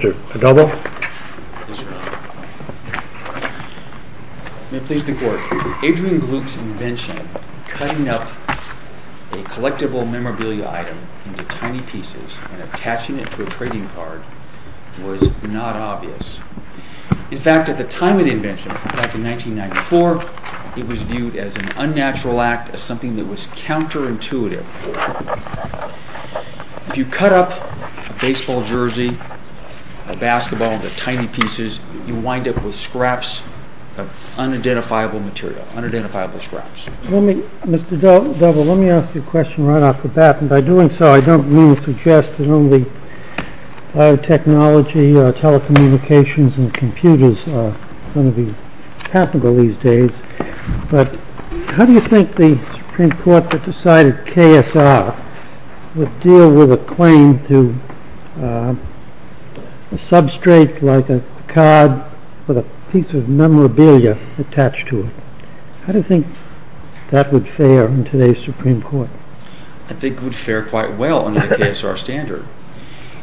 In fact, at the time of the invention, back in 1994, it was viewed as an unnatural act, something that was counterintuitive. If you cut up a baseball jersey, a basketball into tiny pieces, you wind up with scraps of unidentifiable material, unidentifiable scraps. Mr. Delva, let me ask you a question right off the bat, and by doing so I don't mean to suggest that only biotechnology or telecommunications and computers are going to be capital these days, but how do you think the Supreme Court that decided KSR would deal with a claim to a substrate like a card with a piece of memorabilia attached to it? How do you think that would fare in today's Supreme Court? I think it would fare quite well under the KSR standard.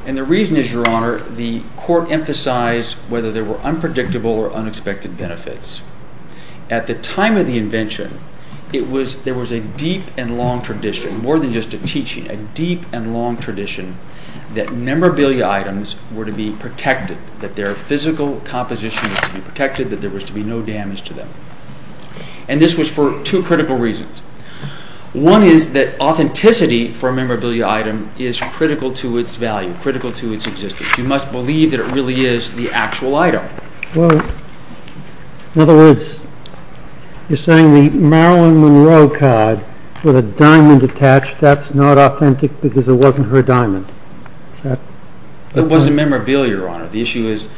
And the reason is, Your Honor, the Court emphasized whether there were unpredictable or unexpected benefits. At the time of the invention, there was a deep and long tradition, more than just a teaching, a deep and long tradition that memorabilia items were to be protected, that their physical composition was to be protected, that there was to be no damage to them. And this was for two critical reasons. One is that authenticity for a memorabilia item is critical to its value, critical to its existence. You must believe that it really is the actual item. In other words, you're saying the Marilyn Monroe card with a diamond attached, that's not authentic because it wasn't her diamond? It wasn't memorabilia, Your Honor. The issue is,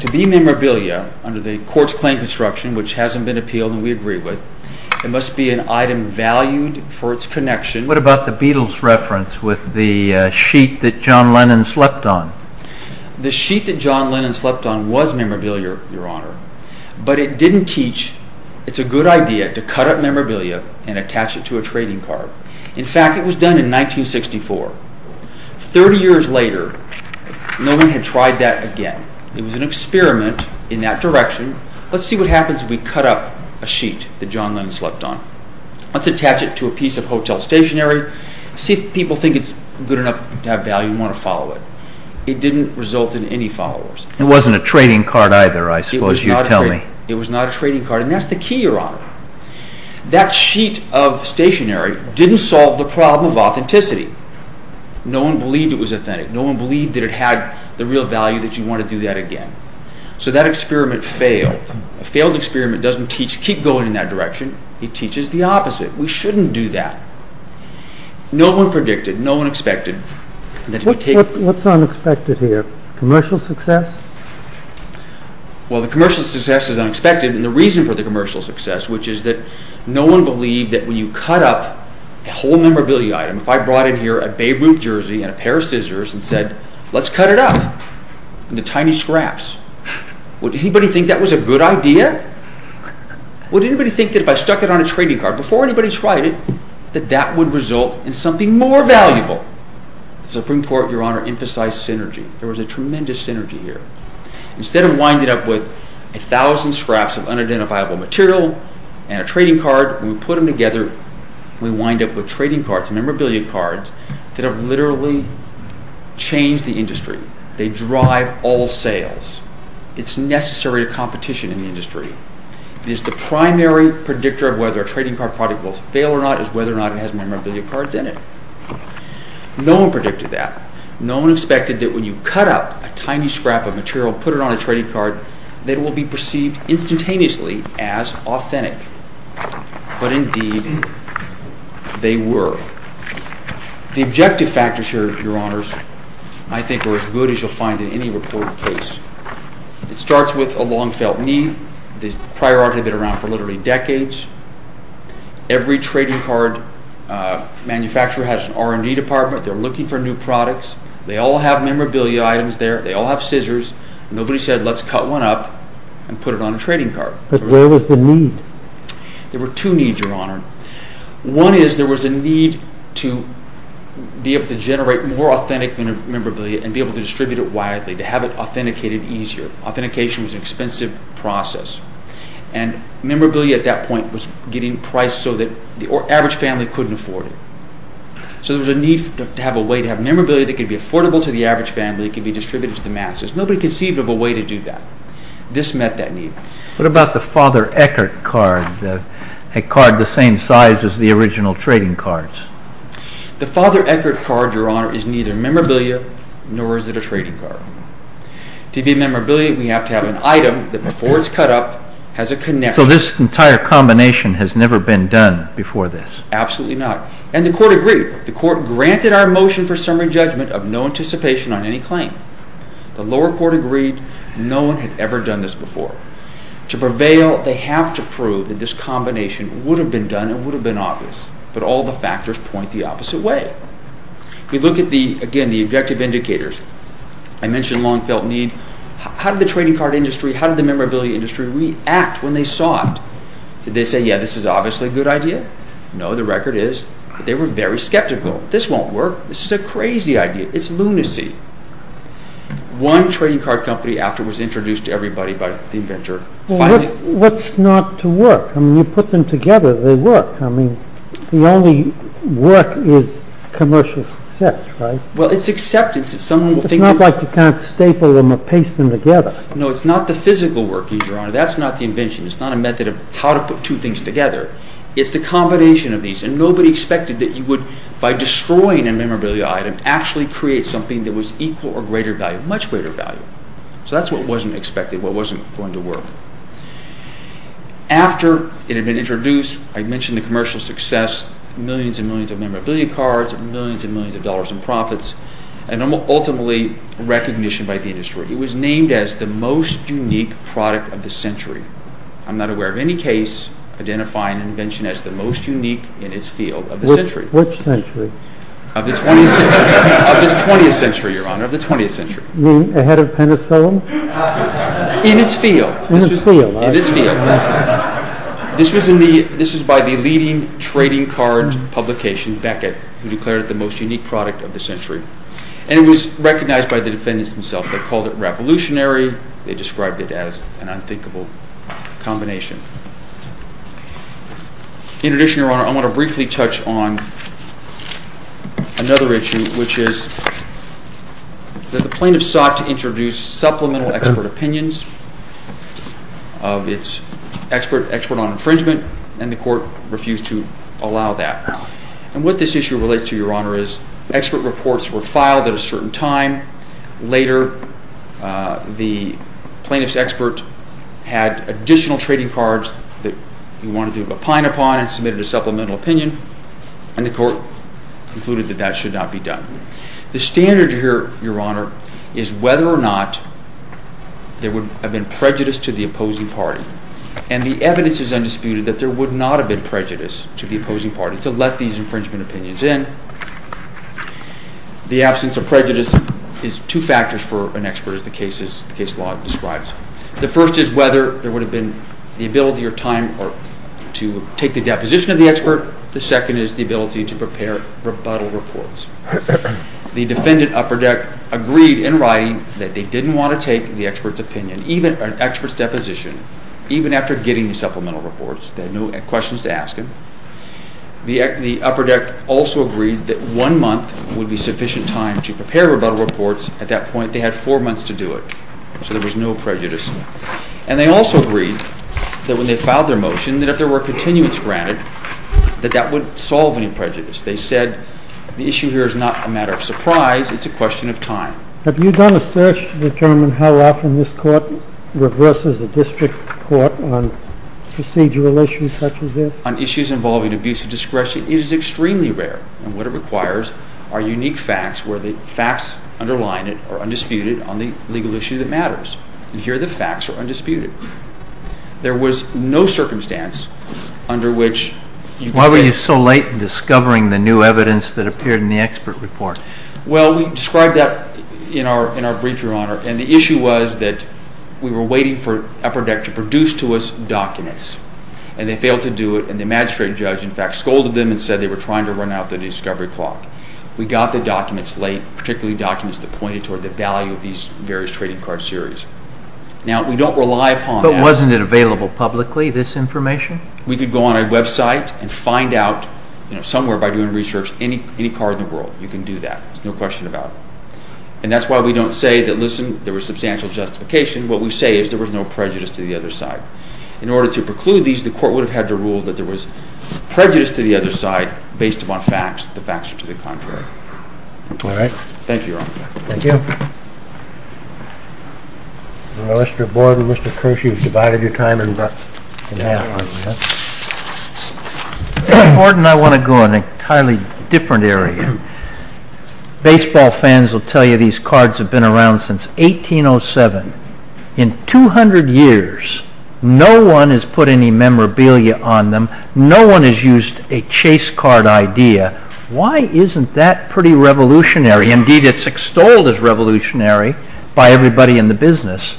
to be memorabilia under the Court's claim construction, which hasn't been appealed and we agree with, it must be an item valued for its connection. What about the Beatles reference with the sheet that John Lennon slept on? The sheet that John Lennon slept on was memorabilia, Your Honor, but it didn't teach it's a good idea to cut up memorabilia and attach it to a trading card. In fact, it was done in 1964. Thirty years later, no one had tried that again. It was an experiment in that direction. Let's see what happens if we cut up a sheet that John Lennon slept on. Let's attach it to a piece of hotel stationery. See if people think it's good enough to have value and want to follow it. It didn't result in any followers. It wasn't a trading card either, I suppose you're telling me. It was not a trading card, and that's the key, Your Honor. That sheet of stationery didn't solve the problem of authenticity. No one believed it was authentic. No one believed that it had the real value that you want to do that again. So that experiment failed. A failed experiment doesn't teach you to keep going in that direction. It teaches the opposite. We shouldn't do that. No one predicted. No one expected. What's unexpected here? Commercial success? Well, the commercial success is unexpected, and the reason for the commercial success, which is that no one believed that when you cut up a whole memorabilia item, if I brought in here a Beirut jersey and a pair of scissors and said, let's cut it up into tiny scraps, would anybody think that was a good idea? Would anybody think that if I stuck it on a trading card before anybody tried it, that that would result in something more valuable? The Supreme Court, Your Honor, emphasized synergy. There was a tremendous synergy here. Instead of winding up with a thousand scraps of unidentifiable material and a trading card, we put them together and we wind up with trading cards. Memorabilia cards that have literally changed the industry. They drive all sales. It's necessary to competition in the industry. It is the primary predictor of whether a trading card product will fail or not is whether or not it has memorabilia cards in it. No one predicted that. No one expected that when you cut up a tiny scrap of material and put it on a trading card, that it will be perceived instantaneously as authentic. But indeed, they were. The objective factors, Your Honors, I think are as good as you'll find in any reporting case. It starts with a long-felt need. This priority has been around for literally decades. Every trading card manufacturer has an R&D department. They're looking for new products. They all have memorabilia items there. They all have scissors. Nobody said, let's cut one up and put it on a trading card. But where was the need? There were two needs, Your Honor. One is there was a need to be able to generate more authentic memorabilia and be able to distribute it widely, to have it authenticated easier. Authentication was an expensive process. And memorabilia at that point was getting priced so that the average family couldn't afford it. So there was a need to have a way to have memorabilia that could be affordable to the average family and could be distributed to the masses. There was no conceivable way to do that. This met that need. What about the Father Eckert card, a card the same size as the original trading cards? The Father Eckert card, Your Honor, is neither memorabilia nor is it a trading card. To be memorabilia, we have to have an item that before it's cut up has a connection. So this entire combination has never been done before this? Absolutely not. And the Court agreed. The Court granted our motion for summary judgment of no anticipation on any claim. The lower court agreed. No one had ever done this before. To prevail, they have to prove that this combination would have been done and would have been obvious. But all the factors point the opposite way. We look at the, again, the objective indicators. I mentioned long-felt need. How did the trading card industry, how did the memorabilia industry react when they saw it? Did they say, yeah, this is obviously a good idea? No, the record is. They were very skeptical. This won't work. This is a crazy idea. It's lunacy. One trading card company after was introduced to everybody by the inventor. Well, what's not to work? I mean, you put them together, they work. I mean, the only work is commercial success, right? Well, it's acceptance. It's not like you can't staple them or paste them together. No, it's not the physical work, Your Honor. That's not the invention. It's not a method of how to put two things together. It's the combination of these. And nobody expected that you would, by destroying a memorabilia item, actually create something that was equal or greater value, much greater value. So that's what wasn't expected, what wasn't going to work. After it had been introduced, I mentioned the commercial success, millions and millions of memorabilia cards, millions and millions of dollars in profits, and ultimately recognition by the industry. It was named as the most unique product of the century. I'm not aware of any case identifying an invention as the most unique in its field of the century. Which century? Of the 20th century, Your Honor, of the 20th century. You mean ahead of Penicillin? In its field. In its field. In its field. This was by the leading trading card publication, Beckett, who declared it the most unique product of the century. And it was recognized by the defendants themselves. They called it revolutionary. They described it as an unthinkable combination. In addition, Your Honor, I want to briefly touch on another issue, which is that the plaintiffs sought to introduce supplemental expert opinions. It's expert on infringement, and the court refused to allow that. And what this issue relates to, Your Honor, is expert reports were filed at a certain time. Later, the plaintiffs' experts had additional trading cards that they wanted to opine upon and submitted a supplemental opinion, and the court concluded that that should not be done. The standard here, Your Honor, is whether or not there would have been prejudice to the opposing party. And the evidence is undisputed that there would not have been prejudice to the opposing party to let these infringement opinions in. The absence of prejudice is two factors for an expert, as the case law describes. The first is whether there would have been the ability or time to take the deposition of the expert. The second is the ability to prepare rebuttal reports. The defendant, Upperdeck, agreed in writing that they didn't want to take the expert's opinion, even an expert's deposition, even after getting the supplemental reports. They had no questions to ask him. The Upperdeck also agreed that one month would be sufficient time to prepare rebuttal reports. At that point, they had four months to do it, so there was no prejudice. And they also agreed that when they filed their motion, that if there were continuance granted, that that would solve any prejudice. They said the issue here is not a matter of surprise, it's a question of time. Have you done a search to determine how often this court reverses a district court on procedural issues such as this? A search on issues involving abuse of discretion is extremely rare. And what it requires are unique facts where the facts underline it or are undisputed on the legal issue that matters. Here, the facts are undisputed. There was no circumstance under which you could... Why were you so late in discovering the new evidence that appeared in the expert report? Well, we described that in our brief, Your Honor, and the issue was that we were waiting for Upperdeck to produce to us documents. And they failed to do it, and the magistrate judge, in fact, scolded them and said they were trying to run out of the discovery clock. We got the documents late, particularly documents that pointed toward the value of these various trading card series. Now, we don't rely upon... But wasn't it available publicly, this information? We could go on our website and find out somewhere by doing research any card in the world. We can do that. There's no question about it. And that's why we don't say that, listen, there was substantial justification. What we say is there was no prejudice to the other side. In order to preclude these, the court would have had to rule that there was prejudice to the other side based upon facts. The facts are to the contrary. All right. Thank you, Your Honor. Thank you. Well, Mr. Borden, Mr. Kirsch, you've divided your time in half. Mr. Borden, I want to go on an entirely different area. Baseball fans will tell you these cards have been around since 1807. In 200 years, no one has put any memorabilia on them. No one has used a chase card idea. Why isn't that pretty revolutionary? Indeed, it's extolled as revolutionary by everybody in the business.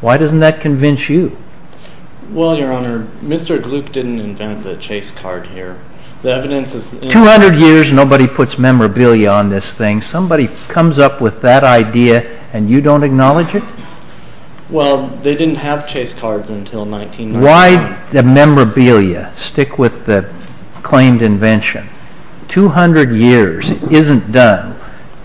Why doesn't that convince you? Well, Your Honor, Mr. Gluck didn't invent the chase card here. The evidence is... 200 years, nobody puts memorabilia on this thing. Somebody comes up with that idea and you don't acknowledge it? Well, they didn't have chase cards until 1909. Why the memorabilia? Stick with the claimed invention. 200 years isn't done.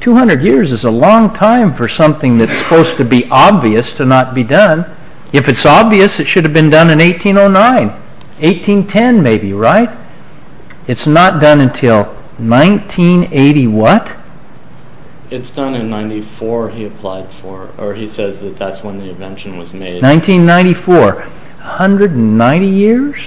200 years is a long time for something that's supposed to be obvious to not be done. If it's obvious, it should have been done in 1809, 1810 maybe, right? It's not done until 1980 what? It's done in 1994, he says that's when the invention was made. 1994, 190 years?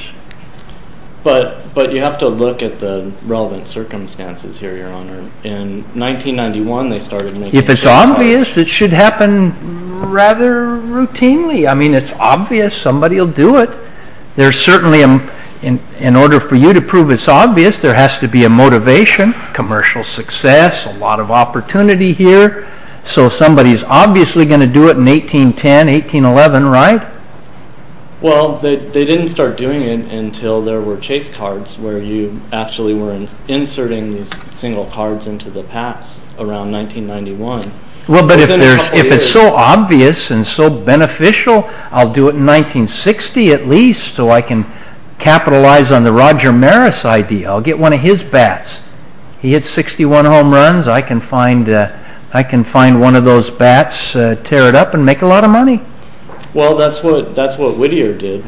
But you have to look at the relevant circumstances here, Your Honor. In 1991, they started making... If it's obvious, it should happen rather routinely. I mean, if it's obvious, somebody will do it. There's certainly... In order for you to prove it's obvious, there has to be a motivation, commercial success, a lot of opportunity here. So somebody's obviously going to do it in 1810, 1811, right? Well, they didn't start doing it until there were chase cards where you actually were inserting single cards into the packs around 1991. Well, but if it's so obvious and so beneficial, I'll do it in 1960 at least so I can capitalize on the Roger Maris idea. I'll get one of his bats. He hits 61 home runs, I can find one of those bats, tear it up and make a lot of money. Well, that's what Whittier did.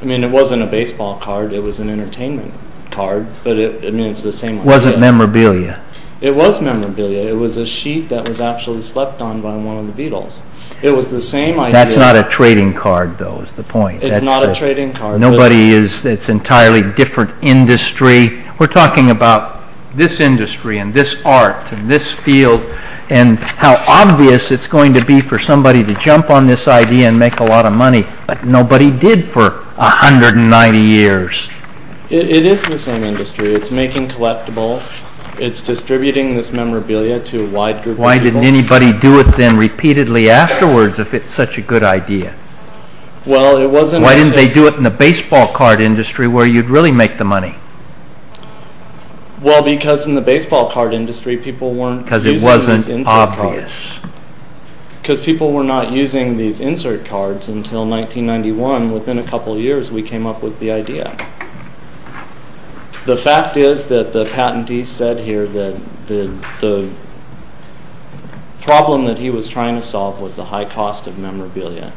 I mean, it wasn't a baseball card, it was an entertainment card. Was it memorabilia? It was memorabilia. It was a sheet that was actually slept on by one of the Beatles. It was the same idea... That's not a trading card, though, is the point. It's not a trading card. Nobody is... It's an entirely different industry. We're talking about this industry and this art and this field and how obvious it's going to be for somebody to jump on this idea and make a lot of money, but nobody did for 190 years. It is the same industry. It's making collectibles. It's distributing this memorabilia to a wide group of people. Why didn't anybody do it then repeatedly afterwards if it's such a good idea? Well, it wasn't... Why didn't they do it in the baseball card industry where you'd really make the money? Well, because in the baseball card industry, people weren't... Because it wasn't obvious. Because people were not using these insert cards until 1991. Within a couple of years, we came up with the idea. The fact is that the patentee said here that the problem that he was trying to solve was the high cost of memorabilia.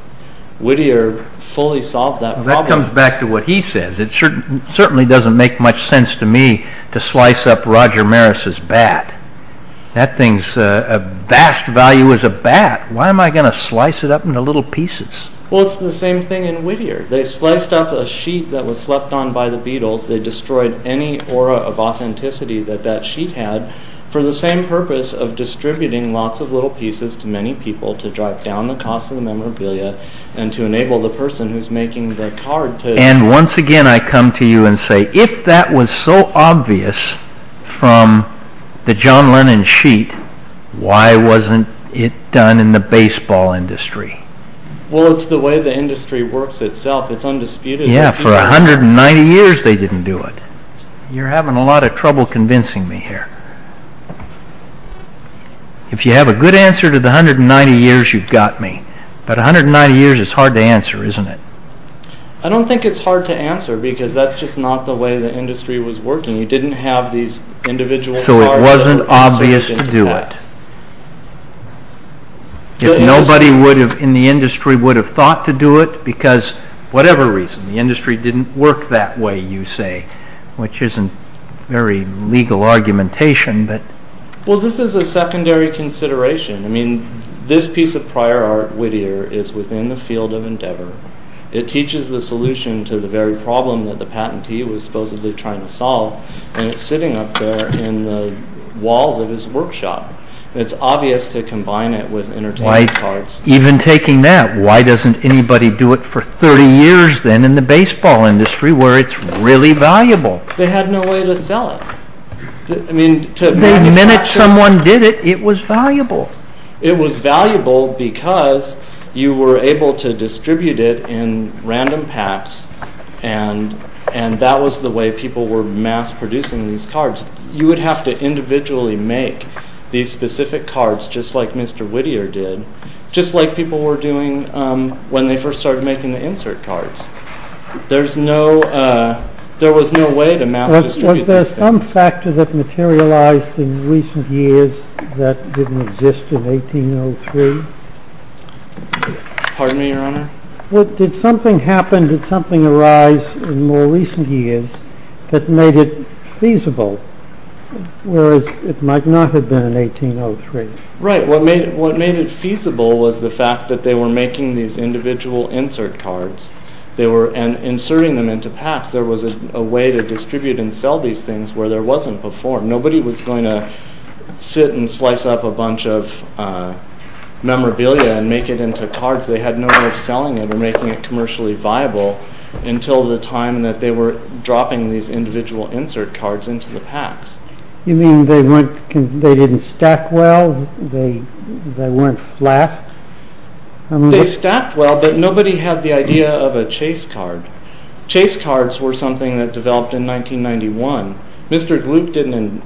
Whittier fully solved that problem. That comes back to what he said. It certainly doesn't make much sense to me to slice up Roger Maris' bat. That thing's a vast value as a bat. Why am I going to slice it up into little pieces? Well, it's the same thing in Whittier. They sliced up a sheet that was left on by the Beatles. They destroyed any aura of authenticity that that sheet had for the same purpose of distributing lots of little pieces to many people to drive down the cost of the memorabilia and to enable the person who's making the card to... And once again, I come to you and say, if that was so obvious from the John Lennon sheet, why wasn't it done in the baseball industry? Well, it's the way the industry works itself. It's undisputed. Yeah, for 190 years they didn't do it. You're having a lot of trouble convincing me here. If you have a good answer to the 190 years, you've got me. But 190 years is hard to answer, isn't it? I don't think it's hard to answer because that's just not the way the industry was working. You didn't have these individual cards... So it wasn't obvious to do it. If nobody in the industry would have thought to do it, because whatever reason, the industry didn't work that way, you say, which isn't very legal argumentation, but... Well, this is a secondary consideration. I mean, this piece of prior art, Whittier, is within the field of endeavor. It teaches the solution to the very problem that the patentee was supposedly trying to solve, and it's sitting up there in the walls of his workshop. It's obvious to combine it with entertainment cards. Even taking that, why doesn't anybody do it for 30 years, then, in the baseball industry, where it's really valuable? They had no way to sell it. The minute someone did it, it was valuable. It was valuable because you were able to distribute it in random packs, you would have to individually make these specific cards, just like Mr. Whittier did, just like people were doing when they first started making the insert cards. There was no way to map... Was there some factor that materialized in recent years that didn't exist in 1803? Pardon me, Your Honor? Did something happen, did something arise in more recent years that made it feasible, whereas it might not have been in 1803? Right, what made it feasible was the fact that they were making these individual insert cards, and inserting them into packs. There was a way to distribute and sell these things where there wasn't before. Nobody was going to sit and slice up a bunch of memorabilia and make it into cards. They had no way of selling it or making it commercially viable until the time that they were dropping these individual insert cards into the packs. You mean they didn't stack well? They weren't flat? They stacked well, but nobody had the idea of a chase card. Chase cards were something that developed in 1991. Mr. Gluck didn't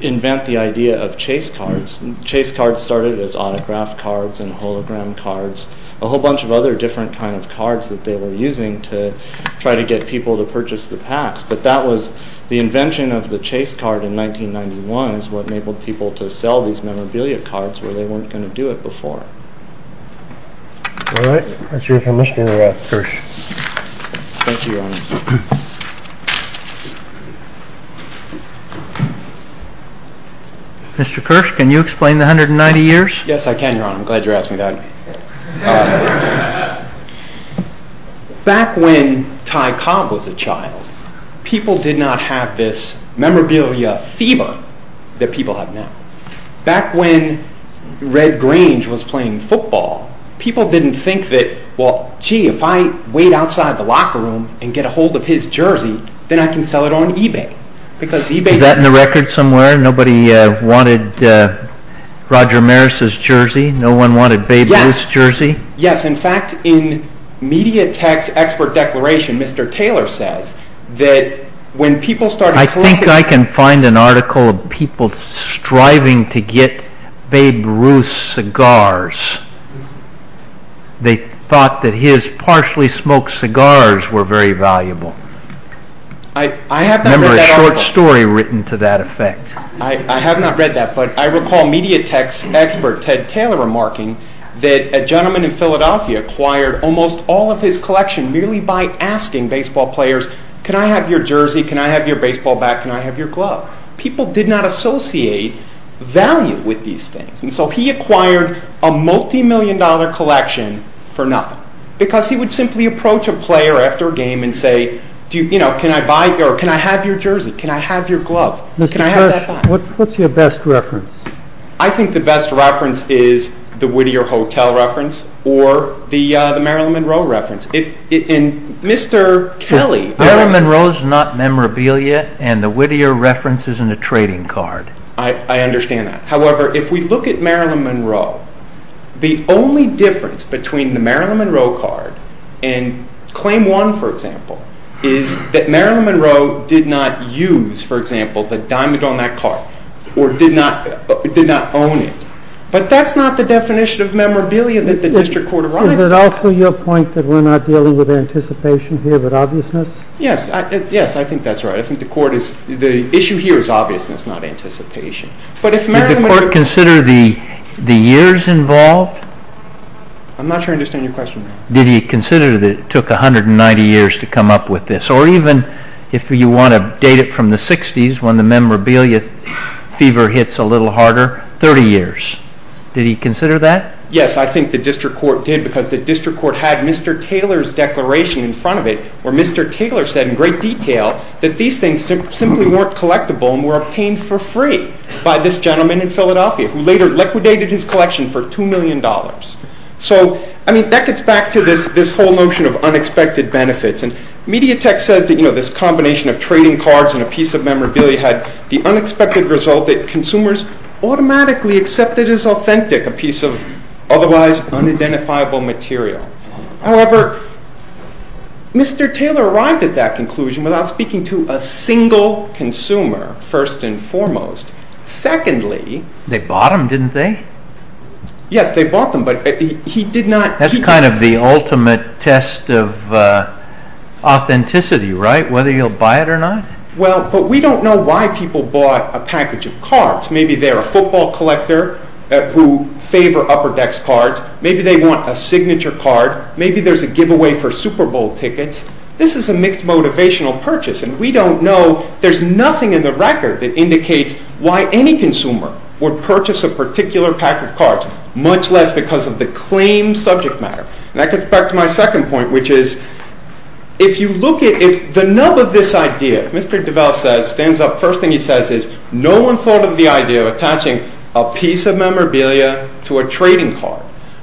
invent the idea of chase cards. Chase cards started as autograph cards and hologram cards, a whole bunch of other different kinds of cards that they were using to try to get people to purchase the packs. But that was the invention of the chase card in 1991 is what enabled people to sell these memorabilia cards where they weren't going to do it before. All right, that's it from Mr. Kirsch. Thank you, Your Honor. Mr. Kirsch, can you explain the 190 years? Yes, I can, Your Honor. I'm glad you're asking that. Back when Ty Cobb was a child, people did not have this memorabilia fever that people have now. Back when Red Grange was playing football, people didn't think that, well, gee, if I wait outside the locker room and get a hold of his jersey, then I can sell it on eBay. Is that in the record somewhere? Nobody wanted Roger Maris's jersey? No one wanted Babe Ruth's jersey? Yes, in fact, in Media Tech's expert declaration, Mr. Taylor says that when people started... I think I can find an article of people striving to get Babe Ruth's cigars. They thought that his partially smoked cigars were very valuable. I remember a short story written to that effect. I have not read that, but I recall Media Tech's expert Ted Taylor remarking that a gentleman in Philadelphia acquired almost all of his collection merely by asking baseball players, can I have your jersey, can I have your baseball bat, can I have your glove? People did not associate value with these things, and so he acquired a multimillion-dollar collection for nothing, because he would simply approach a player after a game and say, can I have your jersey, can I have your glove, can I have that bat? What's your best reference? I think the best reference is the Whittier Hotel reference or the Marilyn Monroe reference. Mr. Kelly... Marilyn Monroe is not memorabilia, and the Whittier reference isn't a trading card. I understand that. However, if we look at Marilyn Monroe, the only difference between the Marilyn Monroe card and Claim 1, for example, is that Marilyn Monroe did not use, for example, the diamond on that card or did not own it. But that's not the definition of memorabilia that the district court... Is it also your point that we're not dealing with anticipation here but obviousness? Yes, I think that's right. I think the issue here is obviousness, not anticipation. Did the court consider the years involved? I'm not sure I understand your question. Did he consider that it took 190 years to come up with this? Or even if you want to date it from the 60s when the memorabilia fever hits a little harder, 30 years. Did he consider that? Yes, I think the district court did, because the district court had Mr. Taylor's declaration in front of it where Mr. Taylor said in great detail that these things simply weren't collectible and were obtained for free by this gentleman in Philadelphia, who later liquidated his collection for $2 million. That gets back to this whole notion of unexpected benefits. Mediatek says that this combination of trading cards and a piece of memorabilia had the unexpected result that consumers automatically accepted as authentic a piece of otherwise unidentifiable material. However, Mr. Taylor arrived at that conclusion without speaking to a single consumer, first and foremost. Secondly... They bought them, didn't they? Yes, they bought them, but he did not... That's kind of the ultimate test of authenticity, right? Whether you'll buy it or not? Well, but we don't know why people bought a package of cards. Maybe they're a football collector who favor Upper Decks cards. Maybe they want a signature card. Maybe there's a giveaway for Super Bowl tickets. This is a mixed motivational purchase, and we don't know. There's nothing in the record that indicates why any consumer would purchase a particular pack of cards, much less because of the claimed subject matter. That gets back to my second point, which is... If you look at the nub of this idea, Mr. Develle stands up. First thing he says is, No one thought of the idea of attaching a piece of memorabilia to a trading card.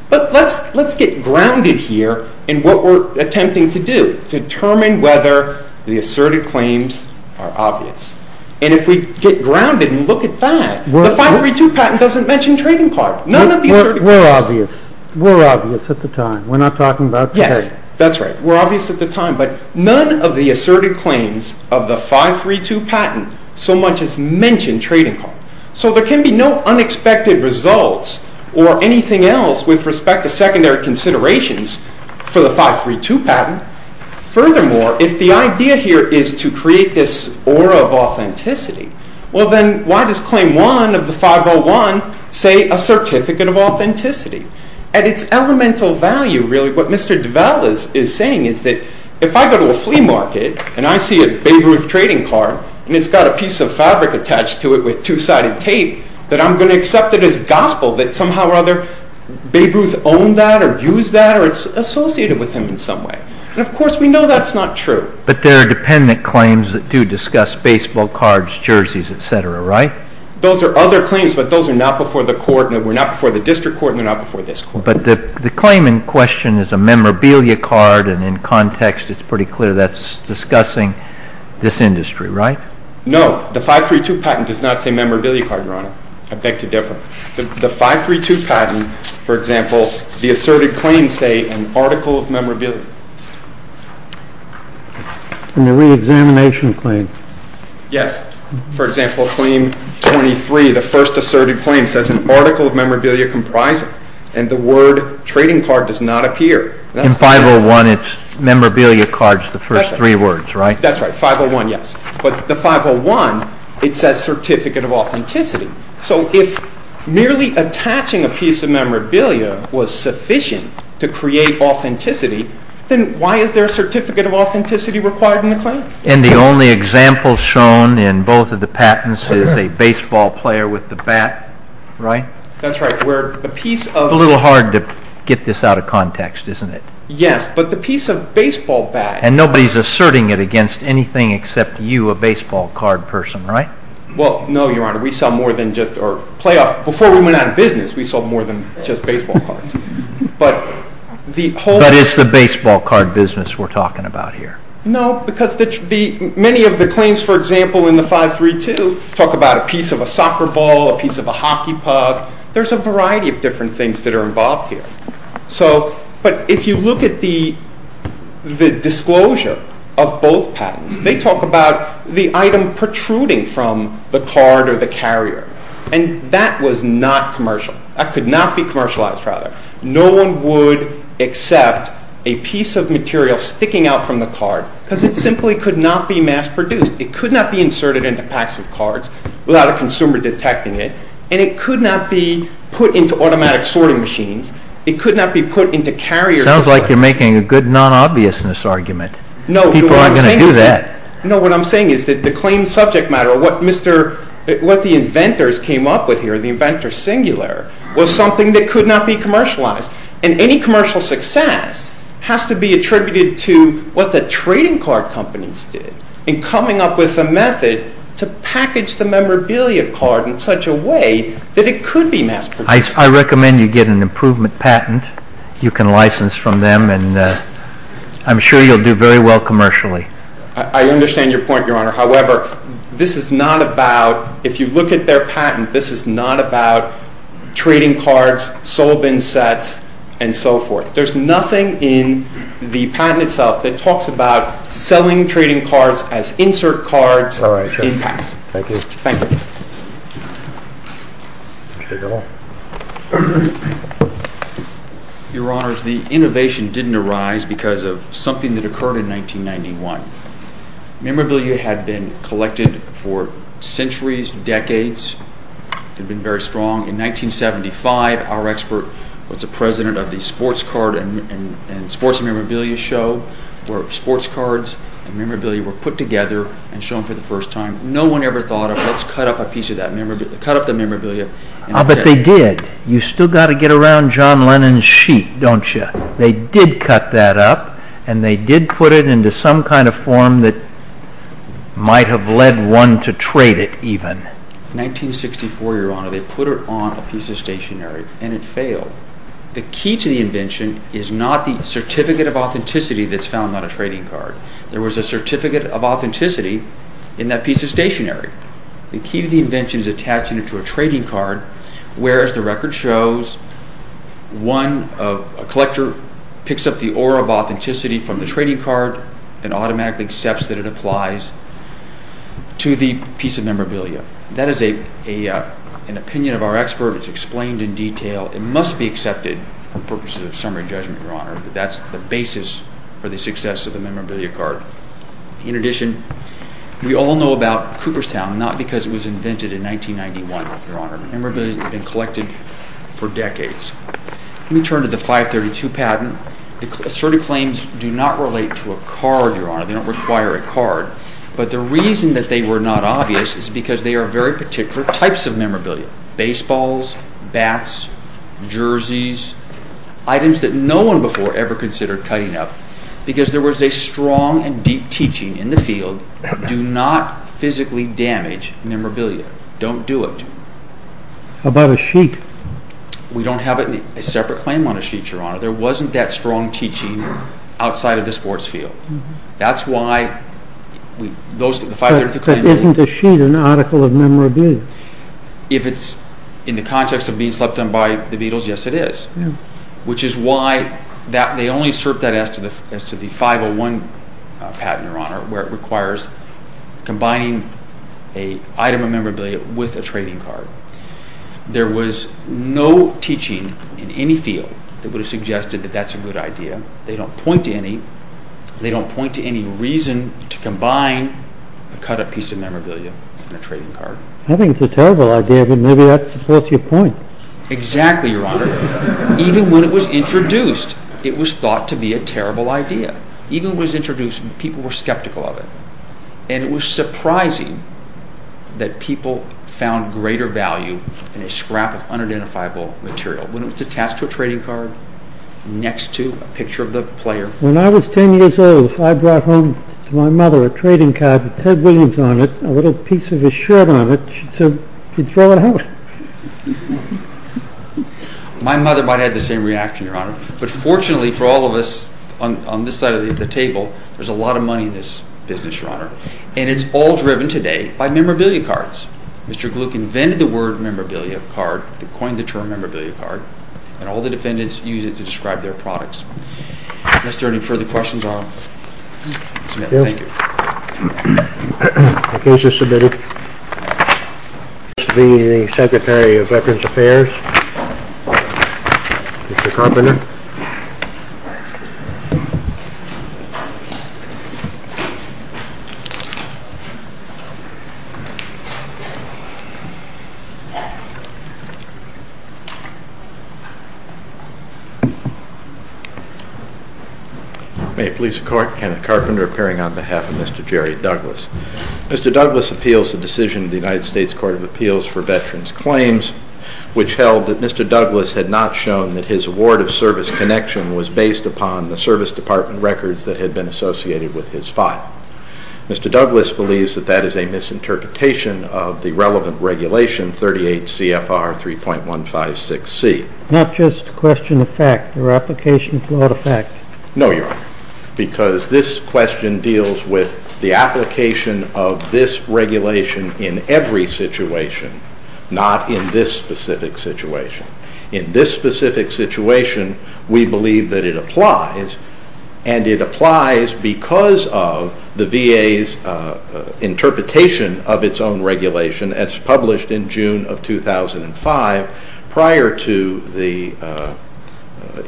But let's get grounded here in what we're attempting to do. Determine whether the asserted claims are obvious. And if we get grounded and look at that, the 532 patent doesn't mention trading cards. None of the asserted claims... We're obvious. We're obvious at the time. We're not talking about today. Yes, that's right. We're obvious at the time. But none of the asserted claims of the 532 patent, so much as mention trading cards. So there can be no unexpected results or anything else with respect to secondary considerations for the 532 patent. Furthermore, if the idea here is to create this aura of authenticity, well then, why does claim one of the 501 say a certificate of authenticity? At its elemental value, really, what Mr. Develle is saying is that if I go to a flea market, and I see a big roof trading card, and it's got a piece of fabric attached to it with two-sided tape, that I'm going to accept it as gospel, that somehow or other, Babe Ruth owned that or used that or it's associated with him in some way. And of course we know that's not true. But there are dependent claims that do discuss baseball cards, jerseys, etc., right? Those are other claims, but those are not before the court, and they were not before the district court, and they're not before this court. But the claim in question is a memorabilia card, and in context it's pretty clear that's discussing this industry, right? No, the 532 patent does not say memorabilia card, Your Honor. Object to Develle. The 532 patent, for example, the asserted claims say an article of memorabilia. And the reexamination claim. Yes. For example, claim 23, the first asserted claim, says an article of memorabilia comprises, and the word trading card does not appear. In 501, it's memorabilia cards, the first three words, right? That's right. 501, yes. But the 501, it says certificate of authenticity. So if merely attaching a piece of memorabilia was sufficient to create authenticity, then why is there a certificate of authenticity required in the claim? And the only example shown in both of the patents is a baseball player with the bat, right? That's right. It's a little hard to get this out of context, isn't it? Yes, but the piece of baseball bat. And nobody's asserting it against anything except you, a baseball card person, right? Well, no, Your Honor. We sell more than just our playoff. Before we went out of business, we sold more than just baseball cards. But it's the baseball card business we're talking about here. No, because many of the claims, for example, in the 532, talk about a piece of a soccer ball, a piece of a hockey puck. There's a variety of different things that are involved here. But if you look at the disclosure of both patents, they talk about the item protruding from the card or the carrier. And that was not commercial. That could not be commercialized, rather. No one would accept a piece of material sticking out from the card because it simply could not be mass-produced. It could not be inserted into packs of cards without a consumer detecting it, and it could not be put into automatic sorting machines. It could not be put into carriers. Sounds like you're making a good non-obviousness argument. No, Your Honor. People aren't going to do that. No, what I'm saying is that the claims subject matter, what the inventors came up with here, the inventor singular, was something that could not be commercialized. And any commercial success has to be attributed to what the trading card companies did in coming up with a method to package the memorabilia card in such a way that it could be mass-produced. I recommend you get an improvement patent you can license from them, and I'm sure you'll do very well commercially. I understand your point, Your Honor. However, this is not about, if you look at their patent, this is not about trading cards, sold-in sets, and so forth. There's nothing in the patent itself that talks about selling trading cards as insert cards. All right. Thank you. Thank you. Your Honor, the innovation didn't arise because of something that occurred in 1991. Memorabilia had been collected for centuries, decades. It had been very strong. In 1975, our expert was the president of the sports card and sports memorabilia show where sports cards and memorabilia were put together and shown for the first time. No one ever thought of, let's cut up a piece of that memorabilia, cut up the memorabilia. But they did. You've still got to get around John Lennon's sheet, don't you? They did cut that up, and they did put it into some kind of form that might have led one to trade it even. In 1964, Your Honor, they put it on a piece of stationery, and it failed. The key to the invention is not the certificate of authenticity that's found on a trading card. There was a certificate of authenticity in that piece of stationery. The key to the invention is attaching it to a trading card where, as the record shows, a collector picks up the aura of authenticity from the trading card and automatically accepts that it applies to the piece of memorabilia. That is an opinion of our experts. It's explained in detail. It must be accepted for purposes of summary judgment, Your Honor, but that's the basis for the success of the memorabilia card. In addition, we all know about Cooperstown, not because it was invented in 1991, Your Honor. Memorabilia has been collected for decades. Let me turn to the 532 patent. Asserted claims do not relate to a card, Your Honor. They don't require a card. But the reason that they were not obvious is because they are very particular types of memorabilia. Baseballs, bats, jerseys, items that no one before ever considered cutting up because there was a strong and deep teaching in the field, do not physically damage memorabilia. Don't do it. How about a sheet? We don't have a separate claim on a sheet, Your Honor. There wasn't that strong teaching outside of the sports field. That's why... If it isn't a sheet, an article of memorabilia. If it's in the context of being slept on by the Beatles, yes it is. Which is why they only assert that as to the 501 patent, Your Honor, where it requires combining an item of memorabilia with a trading card. There was no teaching in any field that would have suggested that that's a good idea. They don't point to any reason to combine a cut-up piece of memorabilia with a trading card. I think it's a terrible idea, but maybe that supports your point. Exactly, Your Honor. Even when it was introduced, it was thought to be a terrible idea. Even when it was introduced, people were skeptical of it. And it was surprising that people found greater value in a scrap of unidentifiable material. When it was attached to a trading card, next to a picture of the player... When I was 10 years old, I brought home to my mother a trading card with Ted Williams on it, a little piece of his shirt on it, and she said, You'd better have it. My mother might have had the same reaction, Your Honor. But fortunately for all of us on this side of the table, there's a lot of money in this business, Your Honor. And it's all driven today by memorabilia cards. Mr. Gluck invented the word memorabilia card. He coined the term memorabilia card. And all the defendants use it to describe their products. Is there any further questions, Your Honor? No. Thank you. The case is submitted. This will be the Secretary of Veterans Affairs, Mr. Carpenter. May it please the Court, Kenneth Carpenter appearing on behalf of Mr. Jerry Douglas. Mr. Douglas appeals the decision of the United States Court of Appeals for Veterans Claims, which held that Mr. Douglas had not shown that his award of service connection was based upon the service department records that had been associated with his file. Mr. Douglas believes that that is a misinterpretation of the relevant regulation 38 CFR 3.156C. Not just a question of fact. Your application is not a fact. No, Your Honor. Because this question deals with the application of this regulation in every situation, not in this specific situation. In this specific situation, we believe that it applies, and it applies because of the VA's interpretation of its own regulation as published in June of 2005 prior to the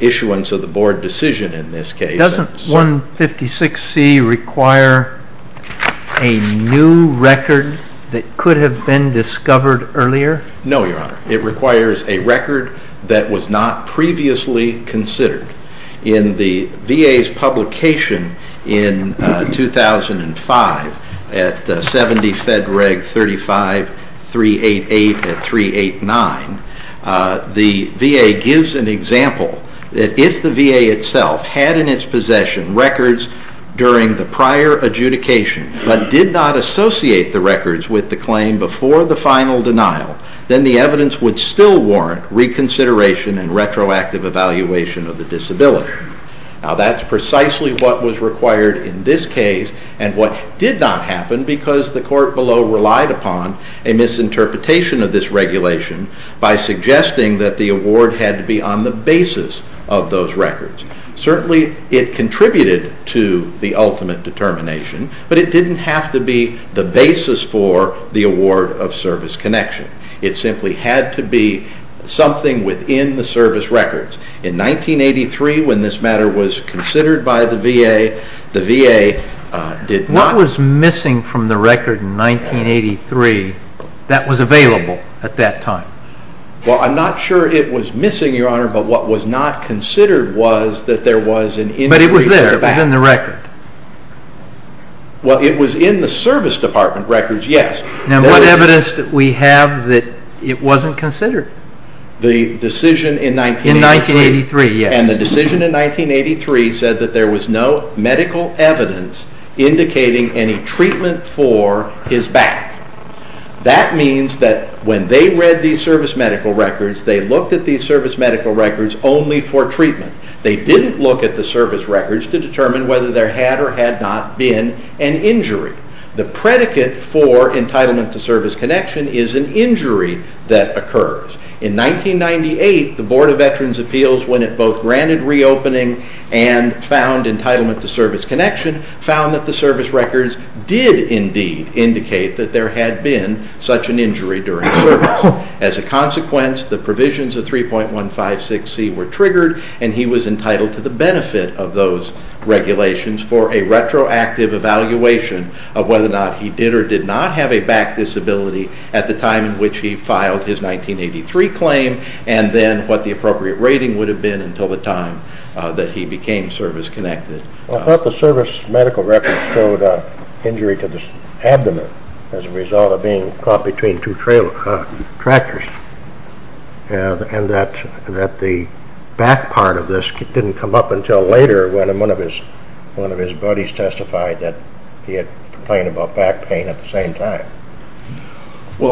issuance of the board decision in this case. Doesn't 156C require a new record that could have been discovered earlier? No, Your Honor. It requires a record that was not previously considered. In the VA's publication in 2005 at 70 Fed Reg 35 388 and 389, the VA gives an example that if the VA itself had in its possession records during the prior adjudication but did not associate the records with the claim before the final denial, then the evidence would still warrant reconsideration and retroactive evaluation of the disability. Now, that's precisely what was required in this case and what did not happen because the court below relied upon a misinterpretation of this regulation by suggesting that the award had to be on the basis of those records. Certainly, it contributed to the ultimate determination, but it didn't have to be the basis for the award of service connection. It simply had to be something within the service records. In 1983, when this matter was considered by the VA, the VA did not... What was missing from the record in 1983 that was available at that time? Well, I'm not sure it was missing, Your Honor, but what was not considered was that there was an... But it was there in the record. Well, it was in the service department records, yes. Now, what evidence do we have that it wasn't considered? The decision in 1983... In 1983, yes. And the decision in 1983 said that there was no medical evidence indicating any treatment for his back. That means that when they read these service medical records, they looked at these service medical records only for treatment. They didn't look at the service records to determine whether there had or had not been an injury. The predicate for entitlement to service connection is an injury that occurs. In 1998, the Board of Veterans' Appeals, when it both granted reopening and found entitlement to service connection, found that the service records did indeed indicate that there had been such an injury during service. As a consequence, the provisions of 3.156C were triggered, and he was entitled to the benefit of those regulations for a retroactive evaluation of whether or not he did or did not have a back disability at the time in which he filed his 1983 claim and then what the appropriate rating would have been until the time that he became service connected. I thought the service medical records showed an injury to the abdomen as a result of being caught between two tractors and that the back part of this didn't come up until later when one of his buddies testified that he had complained about back pain at the same time. Now,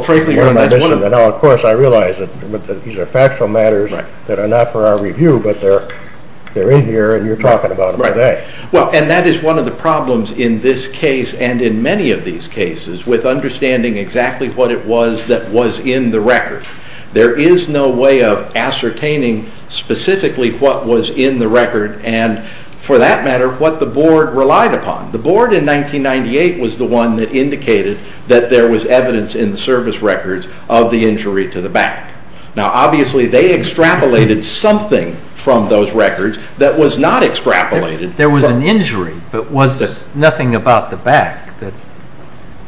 of course, I realize that these are factual matters that are not for our review, but they're in here and you're talking about them today. Well, and that is one of the problems in this case and in many of these cases with understanding exactly what it was that was in the record. There is no way of ascertaining specifically what was in the record and, for that matter, what the board relied upon. The board in 1998 was the one that indicated that there was evidence in the service records of the injury to the back. Now, obviously, they extrapolated something from those records that was not extrapolated that there was an injury but was nothing about the back that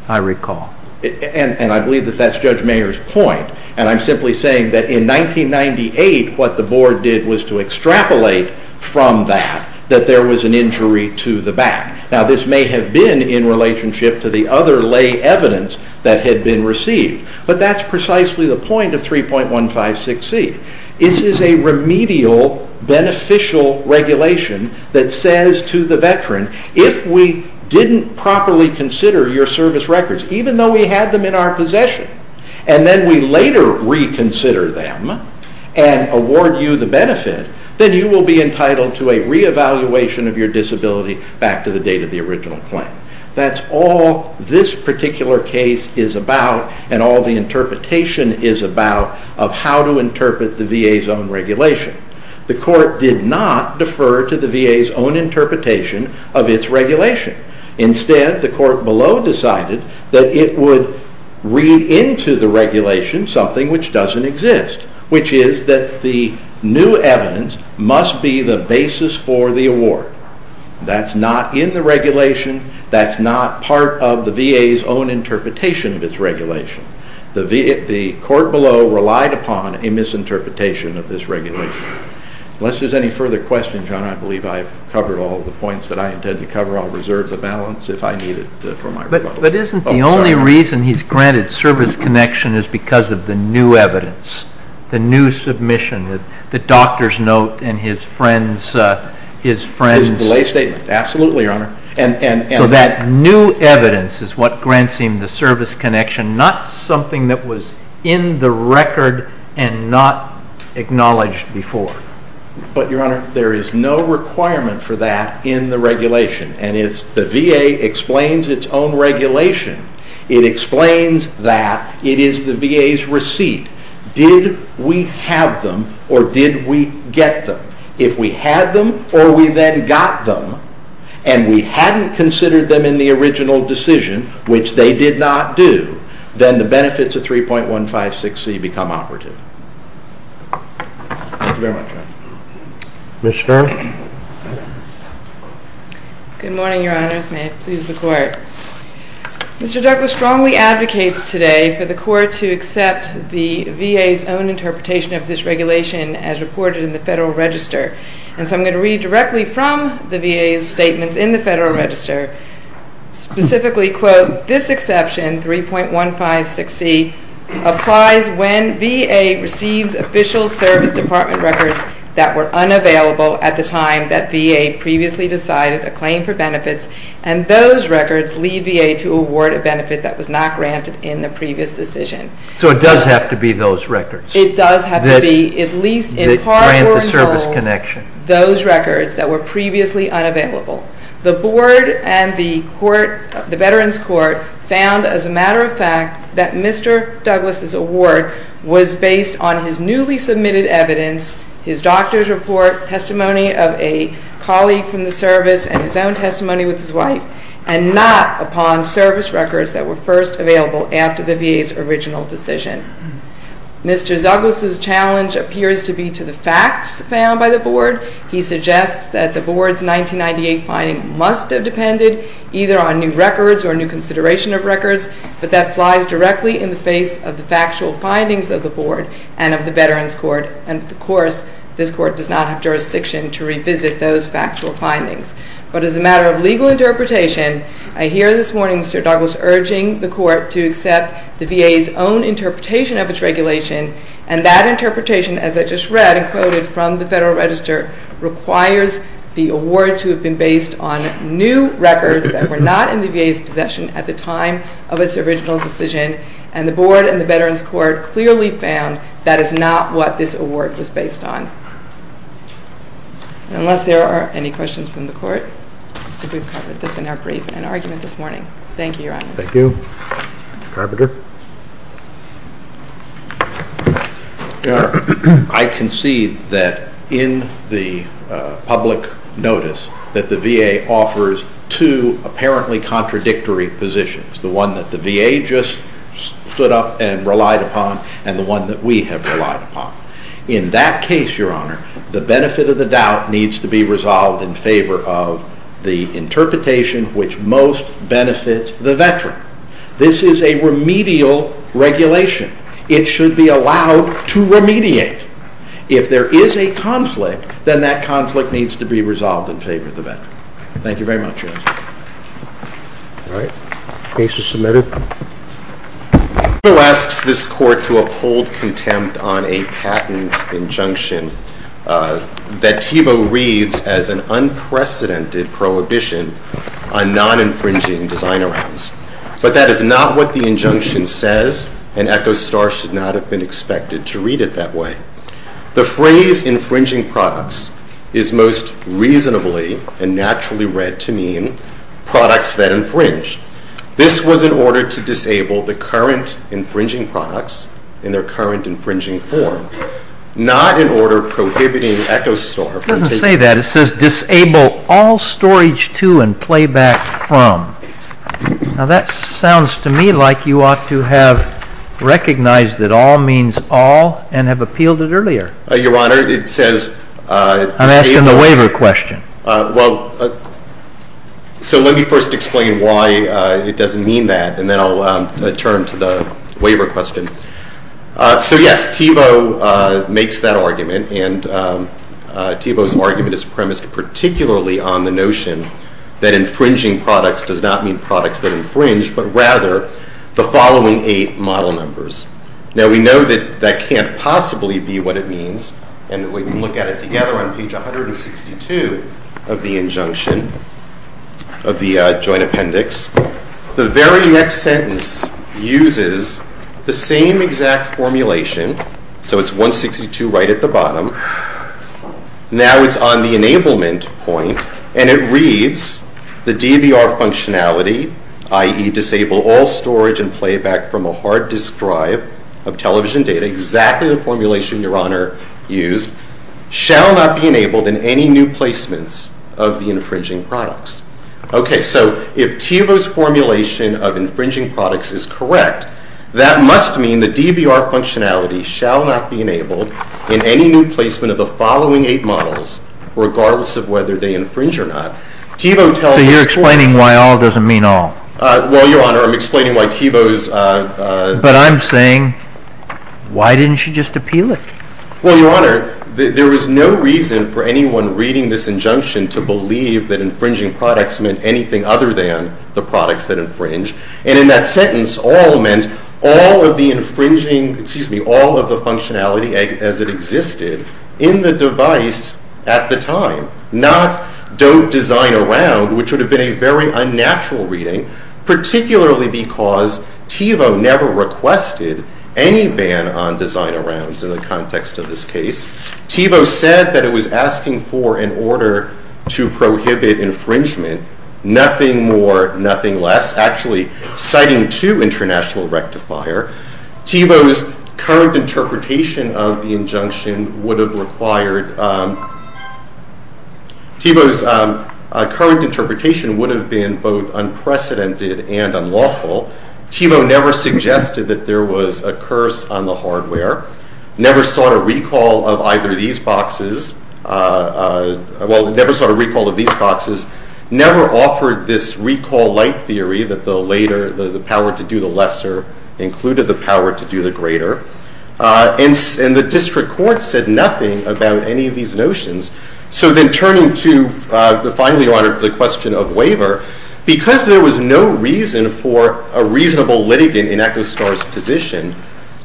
I recall. And I believe that that's Judge Mayer's point, and I'm simply saying that in 1998 what the board did was to extrapolate from that that there was an injury to the back. Now, this may have been in relationship to the other lay evidence that had been received, but that's precisely the point of 3.156C. This is a remedial beneficial regulation that says to the veteran, if we didn't properly consider your service records, even though we have them in our possession, and then we later reconsider them and award you the benefit, then you will be entitled to a reevaluation of your disability back to the date of the original claim. That's all this particular case is about and all the interpretation is about of how to interpret the VA's own regulation. The court did not defer to the VA's own interpretation of its regulation. Instead, the court below decided that it would read into the regulation something which doesn't exist, which is that the new evidence must be the basis for the award. That's not in the regulation. That's not part of the VA's own interpretation of its regulation. The court below relied upon a misinterpretation of this regulation. Unless there's any further questions, John, I believe I've covered all the points that I intended to cover. I'll reserve the balance if I need it for my rebuttal. But isn't the only reason he's granted service connection is because of the new evidence, the new submission, the doctor's note and his friend's delay statement? Absolutely, Your Honor. So that new evidence is what grants him the service connection, not something that was in the record and not acknowledged before. But, Your Honor, there is no requirement for that in the regulation. And if the VA explains its own regulation, it explains that it is the VA's receipt. Did we have them or did we get them? If we had them or we then got them and we hadn't considered them in the original decision, which they did not do, then the benefits of 3.156c become operative. Thank you very much, Your Honor. Ms. Farr? May it please the Court. Mr. Douglas strongly advocates today for the Court to accept the VA's own interpretation of this regulation as reported in the Federal Register. And so I'm going to read directly from the VA's statement in the Federal Register. Specifically, quote, this exception, 3.156c, applies when VA receives official service department records that were unavailable at the time that VA previously decided a claim for benefits and those records leave VA to award a benefit that was not granted in the previous decision. So it does have to be those records? It does have to be, at least in part or in whole, those records that were previously unavailable. The Board and the Veterans Court found, as a matter of fact, that Mr. Douglas' award was based on his newly submitted evidence, his doctor's report, testimony of a colleague from the service, and his own testimony with his wife, and not upon service records that were first available after the VA's original decision. Mr. Douglas' challenge appears to be to the facts found by the Board. He suggests that the Board's 1998 finding must have depended either on new records or new consideration of records, but that flies directly in the face of the factual findings of the Board and of the Veterans Court. Of course, this Court does not have jurisdiction to revisit those factual findings. But as a matter of legal interpretation, I hear this morning Mr. Douglas urging the Court to accept the VA's own interpretation of its regulation and that interpretation, as I just read and quoted from the Federal Register, requires the award to have been based on new records that were not in the VA's possession at the time of its original decision. And the Board and the Veterans Court clearly found that is not what this award was based on. Unless there are any questions from the Court, I think we've covered this in our brief and argument this morning. Thank you, Your Honor. Thank you. Mr. Carpenter? I concede that in the public notice that the VA offers two apparently contradictory positions, the one that the VA just stood up and relied upon and the one that we have relied upon. In that case, Your Honor, the benefit of the doubt needs to be resolved in favor of the interpretation which most benefits the Veteran. This is a remedial regulation. It should be allowed to remediate. If there is a conflict, then that conflict needs to be resolved in favor of the Veteran. Thank you very much, Your Honor. All right. Case is submitted. This Court to uphold contempt on a patent injunction that TEVO reads as an unprecedented prohibition on non-infringing design rights. But that is not what the injunction says, and ECHO-STAR should not have been expected to read it that way. The phrase infringing products is most reasonably and naturally read to mean products that infringe. This was in order to disable the current infringing products in their current infringing form, not in order prohibiting ECHO-STAR. It doesn't say that. It says disable all storage to and playback from. Now, that sounds to me like you ought to have recognized that all means all and have appealed it earlier. Your Honor, it says- I'm asking the waiver question. Well, so let me first explain why it doesn't mean that, and then I'll turn to the waiver question. So, yes, TEVO makes that argument, and TEVO's argument is premised particularly on the notion that infringing products does not mean products that infringe, but rather the following eight model numbers. Now, we know that that can't possibly be what it means, and we can look at it together on page 162 of the injunction, of the joint appendix. The very next sentence uses the same exact formulation, so it's 162 right at the bottom. Now it's on the enablement point, and it reads, the DBR functionality, i.e., disable all storage and playback from a hard disk drive of television data, exactly the formulation Your Honor used, shall not be enabled in any new placements of the infringing products. Okay, so if TEVO's formulation of infringing products is correct, that must mean the DBR functionality shall not be enabled in any new placement of the following eight models, regardless of whether they infringe or not. So you're explaining why all doesn't mean all? Well, Your Honor, I'm explaining why TEVO's- But I'm saying, why didn't you just appeal it? Well, Your Honor, there was no reason for anyone reading this injunction to believe that infringing products meant anything other than the products that infringe, and in that sentence, all meant all of the infringing, excuse me, all of the functionality as it existed in the device at the time, not don't design around, which would have been a very unnatural reading, particularly because TEVO never requested any ban on design arounds in the context of this case. TEVO said that it was asking for, in order to prohibit infringement, nothing more, nothing less, actually citing two international rectifier. TEVO's current interpretation of the injunction would have required, TEVO's current interpretation would have been both unprecedented and unlawful. TEVO never suggested that there was a curse on the hardware, never sought a recall of either of these boxes, well, never sought a recall of these boxes, never offered this recall light theory that the later, the power to do the lesser included the power to do the greater, and the district court said nothing about any of these notions. So then turning to, finally, Your Honor, the question of waiver, because there was no reason for a reasonable litigant in Echo Star's position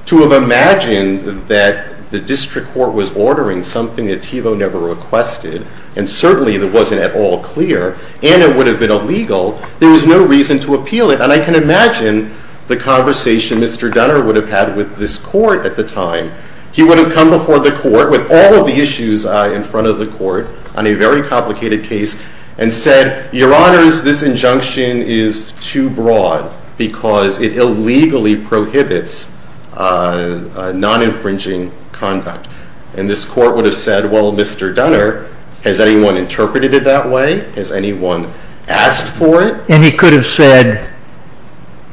to have imagined that the district court was ordering something that TEVO never requested, and certainly it wasn't at all clear, and it would have been illegal, there was no reason to appeal it. And I can imagine the conversation Mr. Dunner would have had with this court at the time. He would have come before the court with all of the issues in front of the court on a very complicated case and said, Your Honors, this injunction is too broad because it illegally prohibits non-infringing conduct. And this court would have said, well, Mr. Dunner, has anyone interpreted it that way? Has anyone asked for it? And he could have said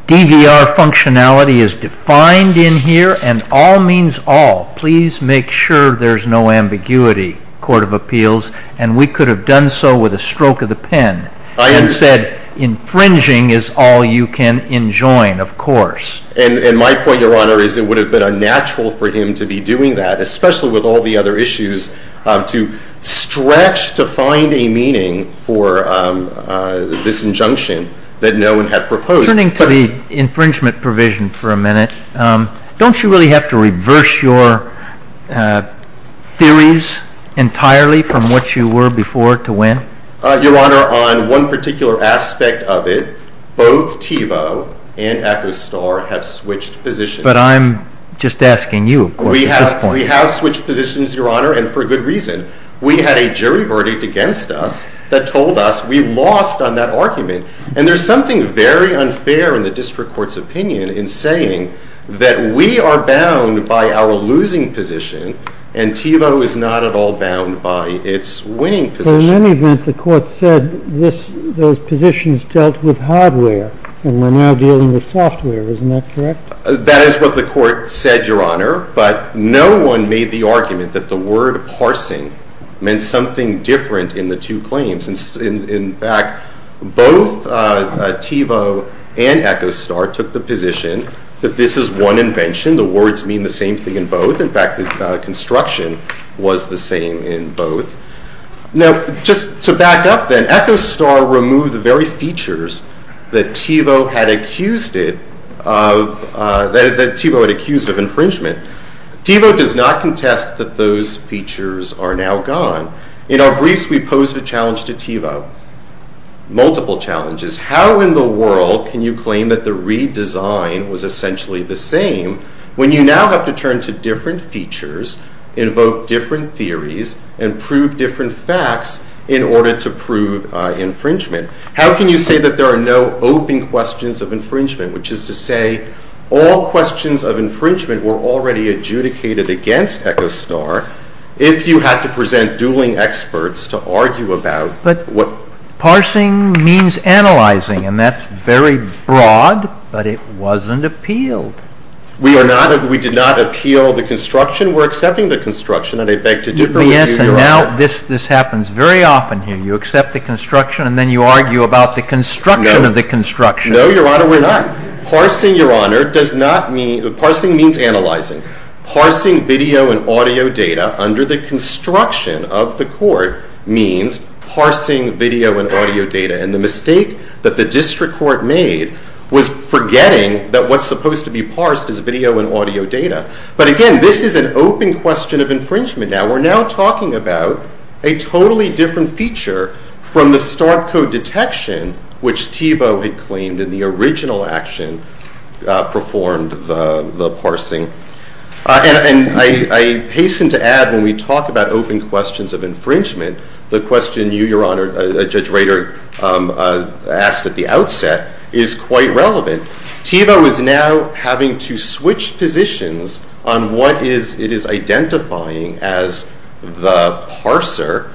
DVR functionality is defined in here, and all means all. Please make sure there's no ambiguity, Court of Appeals. And we could have done so with a stroke of the pen. And said infringing is all you can enjoin, of course. And my point, Your Honor, is it would have been unnatural for him to be doing that, and especially with all the other issues, to stretch to find a meaning for this injunction that no one had proposed. Turning to the infringement provision for a minute, don't you really have to reverse your theories entirely from what you were before to when? Your Honor, on one particular aspect of it, both Thiebaud and Equestar have switched positions. We have switched positions, Your Honor, and for good reason. We had a jury verdict against us that told us we lost on that argument. And there's something very unfair in the district court's opinion in saying that we are bound by our losing position, and Thiebaud is not at all bound by its winning position. In any event, the court said those positions dealt with hardware, and we're now dealing with software. Isn't that correct? That is what the court said, Your Honor. But no one made the argument that the word parsing meant something different in the two claims. In fact, both Thiebaud and Equestar took the position that this is one invention. The words mean the same thing in both. In fact, the construction was the same in both. Now, just to back up then, Thiebaud does not contest that those features are now gone. In our briefs, we posed a challenge to Thiebaud, multiple challenges. How in the world can you claim that the redesign was essentially the same when you now have to turn to different features, invoke different theories, and prove different facts in order to prove infringement? How can you say that there are no open questions of infringement, which is to say all questions of infringement were already adjudicated against Equestar if you have to present dueling experts to argue about what… But parsing means analyzing, and that's very broad, but it wasn't appealed. We did not appeal the construction. We're accepting the construction, and I'd like to do it with you, Your Honor. Yes, and now this happens very often here. You accept the construction, and then you argue about the construction of the construction. No, Your Honor, we're not. Parsing, Your Honor, does not mean… Parsing means analyzing. Parsing video and audio data under the construction of the court means parsing video and audio data, and the mistake that the district court made was forgetting that what's supposed to be parsed is video and audio data. But again, this is an open question of infringement. Now, we're now talking about a totally different feature from the Stark Code detection, which Thiebaud had claimed in the original action performed the parsing. And I hasten to add, when we talk about open questions of infringement, the question you, Your Honor, Judge Rader, asked at the outset is quite relevant. Thiebaud is now having to switch positions on what it is identifying as the parser,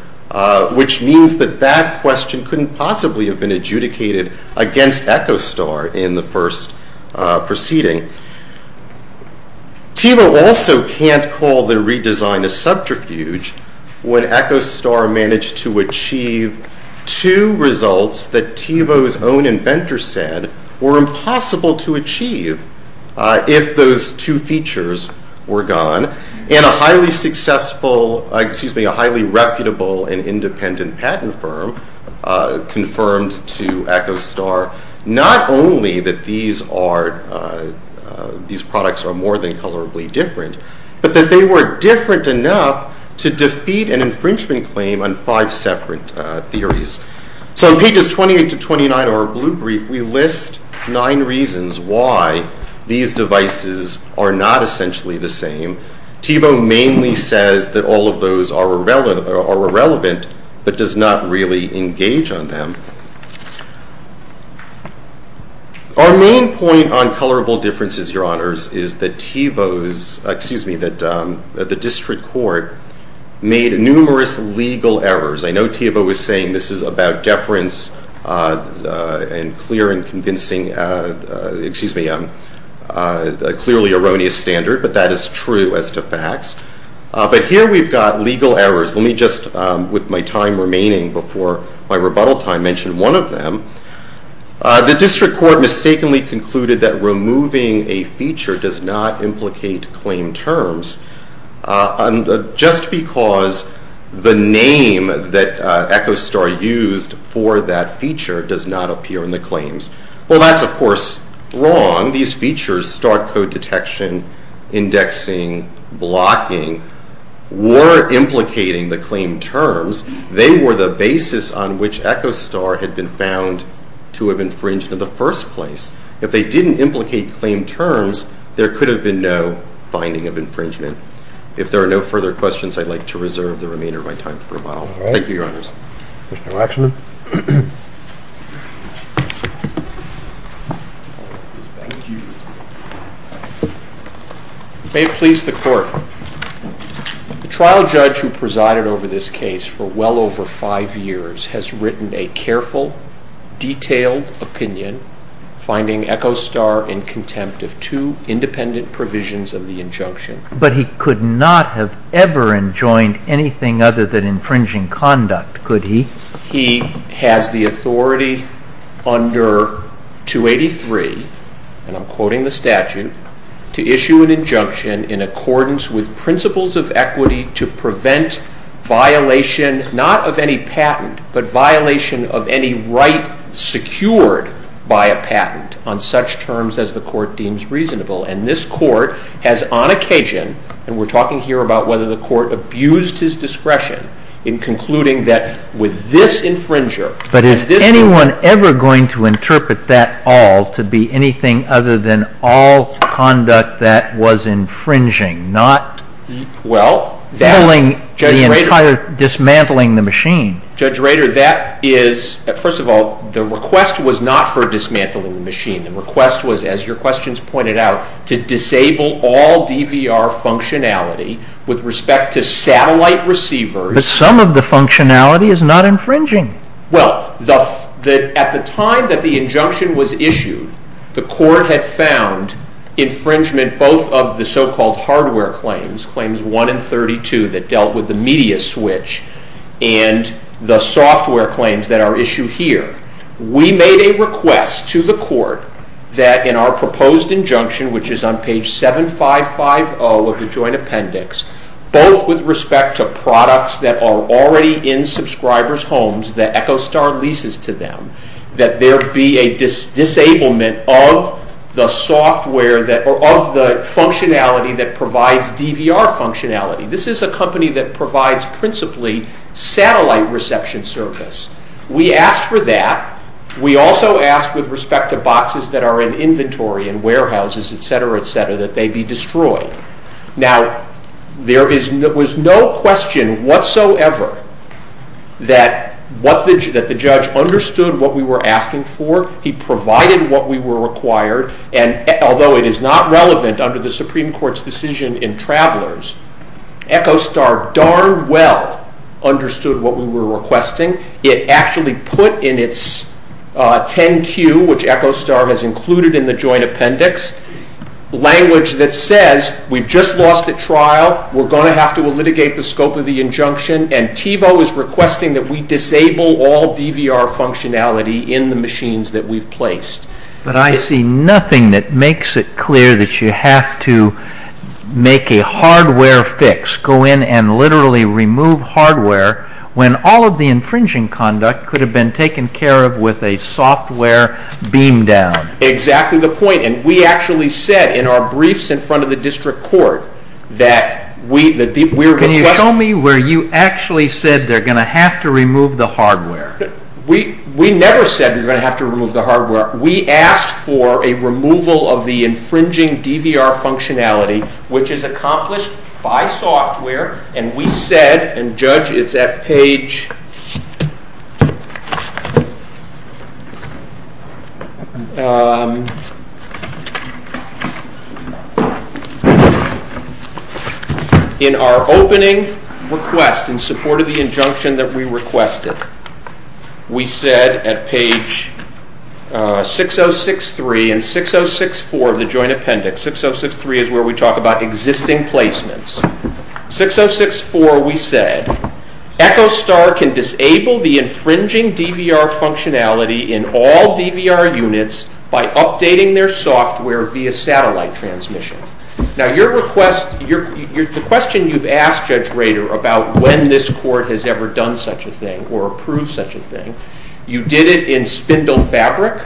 which means that that question couldn't possibly have been adjudicated against Echostar in the first proceeding. Thiebaud also can't call the redesign a subterfuge when Echostar managed to achieve two results that Thiebaud's own inventor said were impossible to achieve if those two features were gone, and a highly reputable and independent patent firm confirmed to Echostar not only that these products are more than colorably different, but that they were different enough to defeat an infringement claim on five separate theories. So on pages 28 to 29 of our blue brief, we list nine reasons why these devices are not essentially the same. Thiebaud mainly says that all of those are irrelevant, but does not really engage on them. Our main point on colorable differences, Your Honors, is that Thiebaud's, excuse me, that the district court made numerous legal errors. I know Thiebaud was saying this is about deference and clear and convincing, excuse me, a clearly erroneous standard, but that is true as to facts. But here we've got legal errors. Let me just, with my time remaining before my rebuttal time, mention one of them. The district court mistakenly concluded that removing a feature does not implicate claim terms, just because the name that Echostar used for that feature does not appear in the claims. Well, that's, of course, wrong. These features, star code detection, indexing, blocking, were implicating the claim terms. They were the basis on which Echostar had been found to have infringed in the first place. If they didn't implicate claim terms, there could have been no finding of infringement. If there are no further questions, I'd like to reserve the remainder of my time for a while. Thank you, Your Honors. Mr. Lechner. If they please the court. The trial judge who presided over this case for well over five years has written a careful, detailed opinion, finding Echostar in contempt of two independent provisions of the injunction. But he could not have ever enjoined anything other than infringing conduct, could he? He has the authority under 283, and I'm quoting the statute, to issue an injunction in accordance with principles of equity to prevent violation not of any patent, but violation of any right secured by a patent on such terms as the court deems reasonable. And this court has on occasion, and we're talking here about whether the court abused his discretion in concluding that with this infringer. But is anyone ever going to interpret that all to be anything other than all conduct that was infringing? Not dismantling the machine. Judge Rader, that is, first of all, the request was not for dismantling the machine. The request was, as your questions pointed out, to disable all DVR functionality with respect to satellite receivers. The sum of the functionality is not infringing. The court had found infringement both of the so-called hardware claims, claims 1 and 32 that dealt with the media switch, and the software claims that are issued here. We made a request to the court that in our proposed injunction, which is on page 7550 of the joint appendix, both with respect to products that are already in subscribers' homes that Echostar leases to them, that there be a disablement of the software that, or of the functionality that provides DVR functionality. This is a company that provides principally satellite reception service. We asked for that. We also asked with respect to boxes that are in inventory in warehouses, et cetera, et cetera, that they be destroyed. Now, there was no question whatsoever that the judge understood what we were asking for. He provided what we were required, and although it is not relevant under the Supreme Court's decision in Travelers, Echostar darn well understood what we were requesting. It actually put in its 10Q, which Echostar has included in the joint appendix, language that says we've just lost a trial, we're going to have to litigate the scope of the injunction, and Thiebaud is requesting that we disable all DVR functionality in the machines that we've placed. But I see nothing that makes it clear that you have to make a hardware fix, go in and literally remove hardware, when all of the infringing conduct could have been taken care of with a software beam down. Exactly the point. And we actually said in our briefs in front of the district court that we were going to- Can you tell me where you actually said they're going to have to remove the hardware? We never said we were going to have to remove the hardware. We asked for a removal of the infringing DVR functionality, which is accomplished by software, and we said, and Judge, it's at page- In our opening request, in support of the injunction that we requested, we said at page 6063 and 6064 of the joint appendix, 6063 is where we talk about existing placements. 6064, we said, EchoStar can disable the infringing DVR functionality in all DVR units by updating their software via satellite transmission. Now, the question you've asked, Judge Rader, about when this court has ever done such a thing or approved such a thing, you did it in spindle fabric,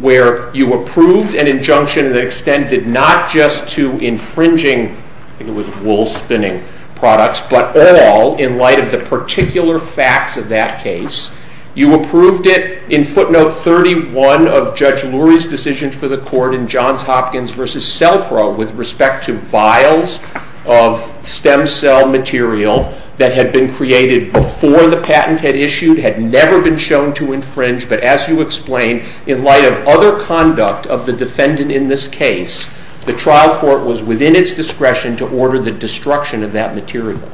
where you approved an injunction that extended not just to infringing- I think it was wool spinning products- but all in light of the particular facts of that case. You approved it in footnote 31 of Judge Lurie's decision for the court in Johns Hopkins v. SELPRO with respect to files of stem cell material that had been created before the patent had issued, had never been shown to infringe, but as you explained, in light of other conduct of the defendant in this case, the trial court was within its discretion to order the destruction of that material.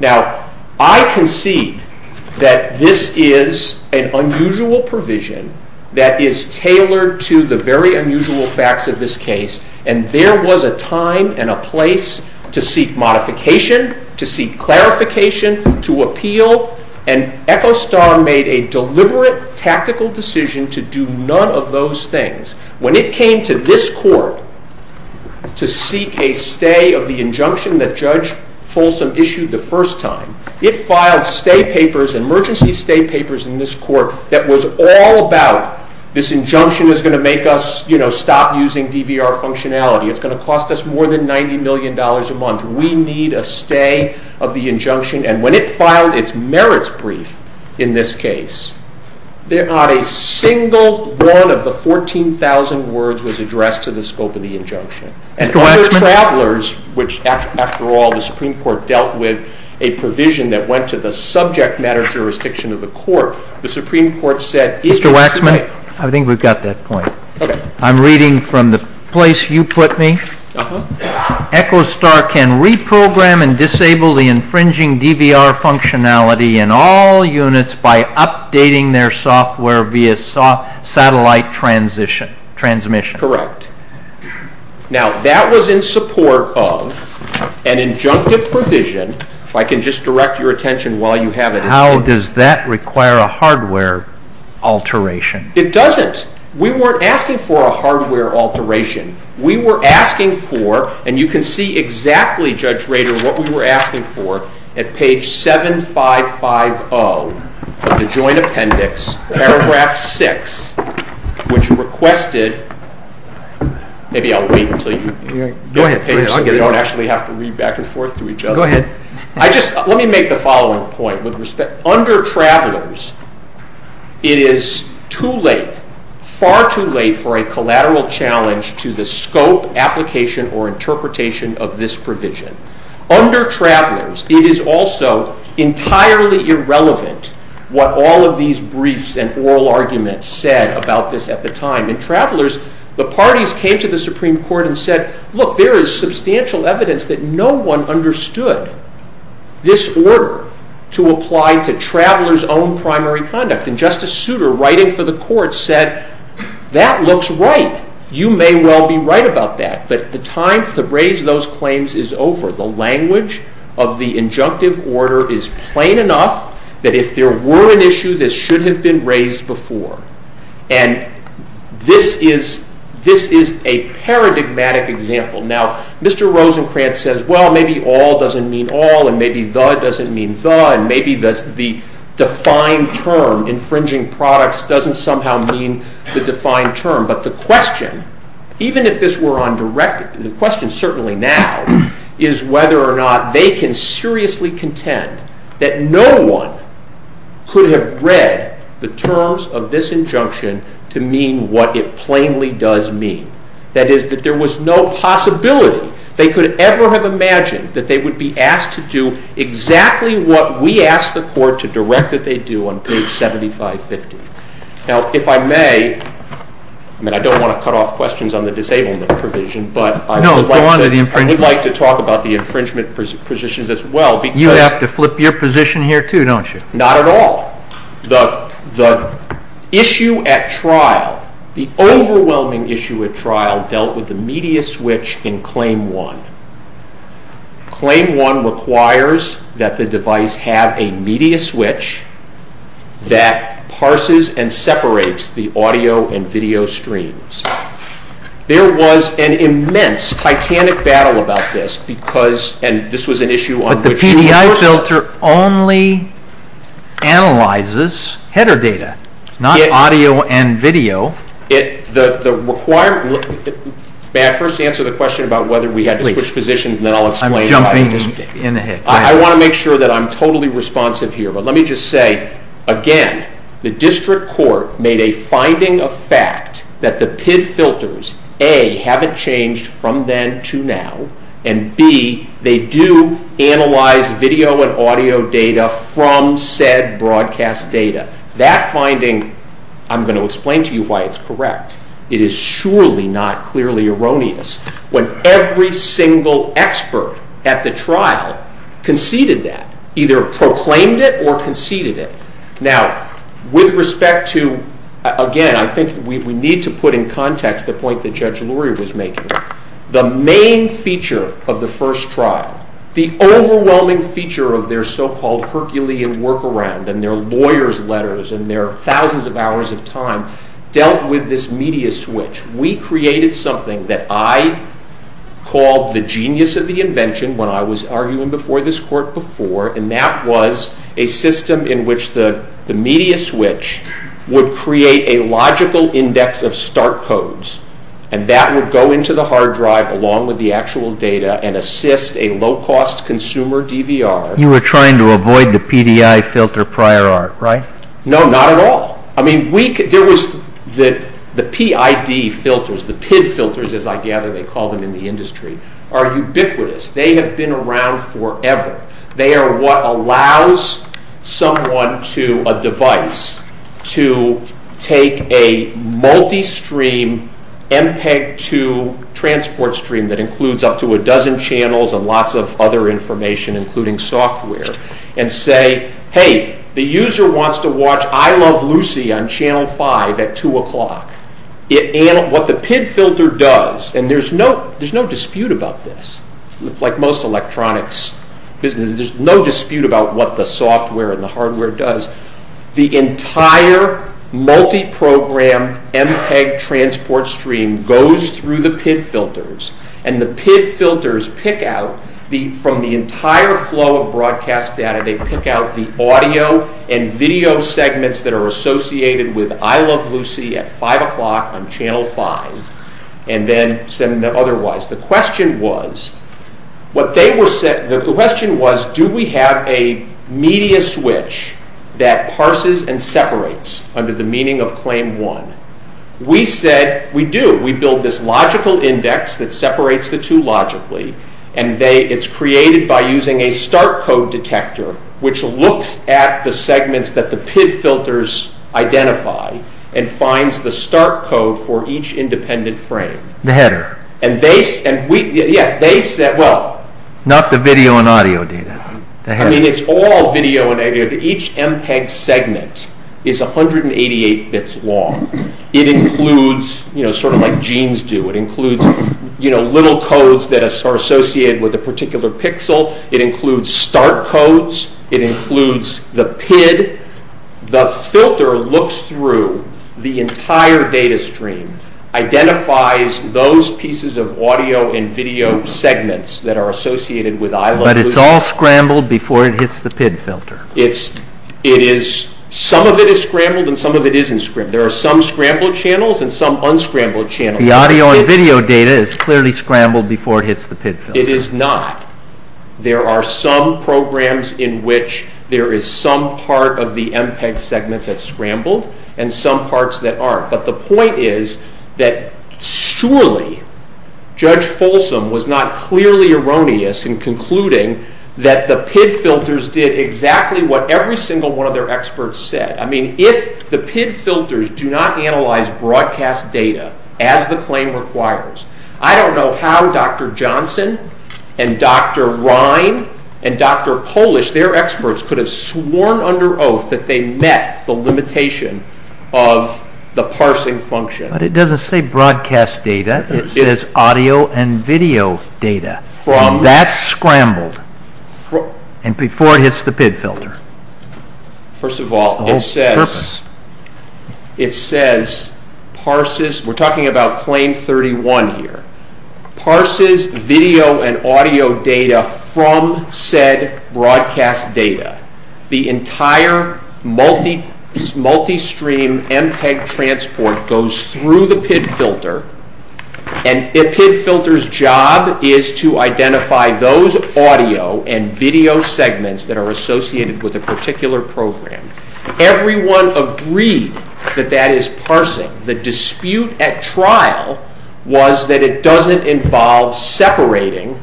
Now, I concede that this is an unusual provision that is tailored to the very unusual facts of this case, and there was a time and a place to seek modification, to seek clarification, to appeal, and Echo Star made a deliberate tactical decision to do none of those things. When it came to this court to seek a stay of the injunction that Judge Folsom issued the first time, it filed emergency stay papers in this court that was all about, this injunction is going to make us stop using DVR functionality, it's going to cost us more than $90 million a month, we need a stay of the injunction, and when it filed its merits brief in this case, not a single one of the 14,000 words was addressed to the scope of the injunction. And other travelers, which after all the Supreme Court dealt with a provision that went to the subject matter jurisdiction of the court, the Supreme Court said, Mr. Waxman, I think we've got that point. Okay. I'm reading from the place you put me. Echo Star can reprogram and disable the infringing DVR functionality in all units by updating their software via satellite transmission. Correct. Now that was in support of an injunctive provision, if I can just direct your attention while you have it. How does that require a hardware alteration? It doesn't. We weren't asking for a hardware alteration. We were asking for, and you can see exactly, Judge Rader, what we were asking for at page 7550 of the Joint Appendix, paragraph 6, which requested, maybe I'll wait until you get your pages, so we don't actually have to read back and forth to each other. Go ahead. Let me make the following point with respect. Under Travelers, it is too late, far too late, for a collateral challenge to the scope, application, or interpretation of this provision. Under Travelers, it is also entirely irrelevant what all of these briefs and oral arguments said about this at the time. In Travelers, the parties came to the Supreme Court and said, look, there is substantial evidence that no one understood this order to apply to Travelers' own primary conduct. And Justice Souter, writing for the court, said, that looks right. You may well be right about that. But the time to raise those claims is over. The language of the injunctive order is plain enough that if there were an issue, this should have been raised before. And this is a paradigmatic example. Now, Mr. Rosencrantz says, well, maybe all doesn't mean all, and maybe the doesn't mean the, and maybe the defined term, infringing products, doesn't somehow mean the defined term. But the question, even if this were undirected, the question certainly now is whether or not they can seriously contend that no one could have read the terms of this injunction to mean what it plainly does mean. That is, that there was no possibility they could ever have imagined that they would be asked to do exactly what we asked the court to direct that they do on page 7550. Now, if I may, I don't want to cut off questions on the disablement provision, but I would like to talk about the infringement positions as well. You have to flip your position here too, don't you? Not at all. The issue at trial, the overwhelming issue at trial, dealt with the media switch in claim one. Claim one requires that the device have a media switch that parses and separates the audio and video streams. There was an immense, titanic battle about this because, and this was an issue on page 24. But the PDI filter only analyzes header data, not audio and video. May I first answer the question about whether we had to switch positions? I'm jumping in ahead. I want to make sure that I'm totally responsive here, but let me just say, again, the district court made a finding of fact that the PID filters, A, haven't changed from then to now, and B, they do analyze video and audio data from said broadcast data. That finding, I'm going to explain to you why it's correct. It is surely not clearly erroneous. When every single expert at the trial conceded that, either proclaimed it or conceded it. Now, with respect to, again, I think we need to put in context the point that Judge Luria was making. The main feature of the first trial, the overwhelming feature of their so-called Herculean workaround and their lawyer's letters and their thousands of hours of time dealt with this media switch. We created something that I called the genius of the invention when I was arguing before this court before, and that was a system in which the media switch would create a logical index of start codes, and that would go into the hard drive along with the actual data and assist a low-cost consumer DVR. You were trying to avoid the PDI filter prior arc, right? No, not at all. I mean, there was the PID filters, the PID filters as I gather they call them in the industry, are ubiquitous. They have been around forever. They are what allows someone to, a device, to take a multi-stream MPEG-2 transport stream that includes up to a dozen channels and lots of other information including software, and say, hey, the user wants to watch I Love Lucy on Channel 5 at 2 o'clock. What the PID filter does, and there's no dispute about this, like most electronics. There's no dispute about what the software and the hardware does. The entire multi-program MPEG transport stream goes through the PID filters, and the PID filters pick out from the entire flow of broadcast data, they pick out the audio and video segments that are associated with I Love Lucy at 5 o'clock on Channel 5, and then send them otherwise. The question was, do we have a media switch that parses and separates under the meaning of claim one? We said we do. We build this logical index that separates the two logically, and it's created by using a start code detector which looks at the segments that the PID filters identify and finds the start code for each independent frame. The header. Yes, they set up. Not the video and audio data. I mean, it's all video and audio. Each MPEG segment is 188 bits long. It includes, sort of like genes do, it includes little codes that are associated with a particular pixel. It includes start codes. It includes the PID. The filter looks through the entire data stream, identifies those pieces of audio and video segments that are associated with I Love Lucy. But it's all scrambled before it hits the PID filter. It is. Some of it is scrambled and some of it isn't scrambled. There are some scrambled channels and some unscrambled channels. The audio and video data is clearly scrambled before it hits the PID filter. It is not. There are some programs in which there is some part of the MPEG segment that's scrambled and some parts that aren't. But the point is that surely Judge Folsom was not clearly erroneous in concluding that the PID filters did exactly what every single one of their experts said. I mean, if the PID filters do not analyze broadcast data as the claim requires, I don't know how Dr. Johnson and Dr. Ryan and Dr. Polish, their experts, could have sworn under oath that they met the limitation of the parsing function. But it doesn't say broadcast data. It says audio and video data. And that's scrambled before it hits the PID filter. First of all, it says parses. We're talking about claim 31 here. Parses video and audio data from said broadcast data. The entire multi-stream MPEG transport goes through the PID filter. And the PID filter's job is to identify those audio and video segments that are associated with a particular program. Everyone agreed that that is parsing. The dispute at trial was that it doesn't involve separating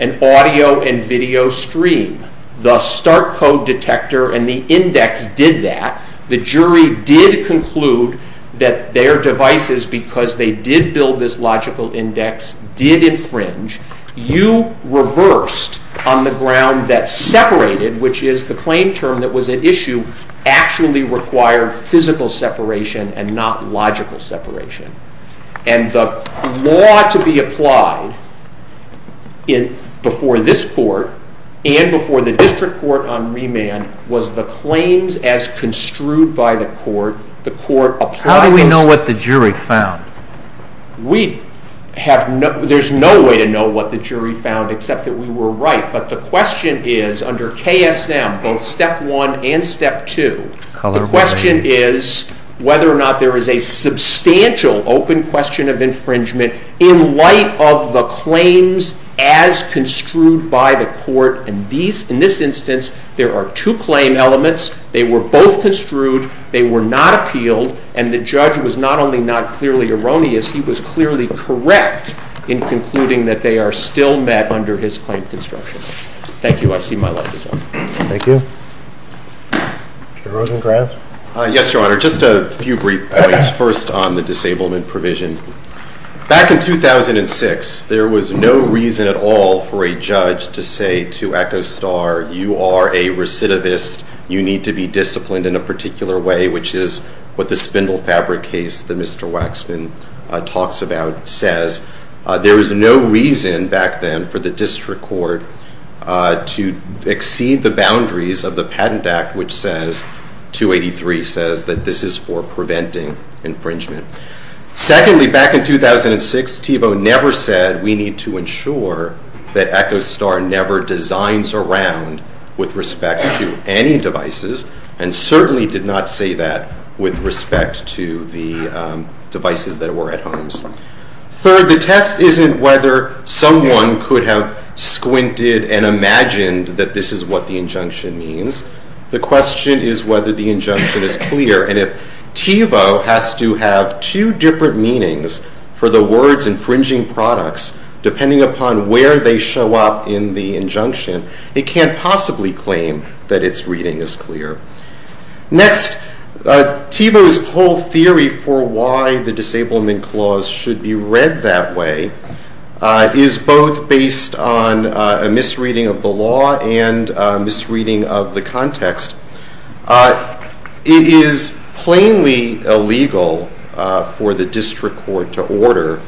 an audio and video stream. The start code detector and the index did that. The jury did conclude that their devices, because they did build this logical index, did infringe. You reversed on the ground that separated, which is the claim term that was at issue, actually required physical separation and not logical separation. And the law to be applied before this court and before the district court on remand was the claims as construed by the court. How do we know what the jury found? There's no way to know what the jury found except that we were right. But the question is, under KSM, both Step 1 and Step 2, the question is whether or not there is a substantial open question of infringement in light of the claims as construed by the court. And in this instance, there are two claim elements. They were both construed. They were not appealed. And the judge was not only not clearly erroneous, he was clearly correct in concluding that they are still met under his plaintive structures. Thank you. I see my light is on. Thank you. Mr. Rosengrant? Yes, Your Honor. Just a few brief points. First, on the disablement provision. Back in 2006, there was no reason at all for a judge to say to Echo Star, you are a recidivist. You need to be disciplined in a particular way, which is what the spindle fabric case that Mr. Waxman talks about says. There was no reason back then for the district court to exceed the boundaries of the Patent Act, which says, 283 says, that this is for preventing infringement. Secondly, back in 2006, Thiebaud never said we need to ensure that Echo Star never designs around with respect to any devices and certainly did not say that with respect to the devices that were at home. Third, the test isn't whether someone could have squinted and imagined that this is what the injunction means. The question is whether the injunction is clear. And if Thiebaud has to have two different meanings for the words infringing products, depending upon where they show up in the injunction, it can't possibly claim that its reading is clear. Next, Thiebaud's whole theory for why the Disablement Clause should be read that way is both based on a misreading of the law and a misreading of the context. It is plainly illegal for the district court to order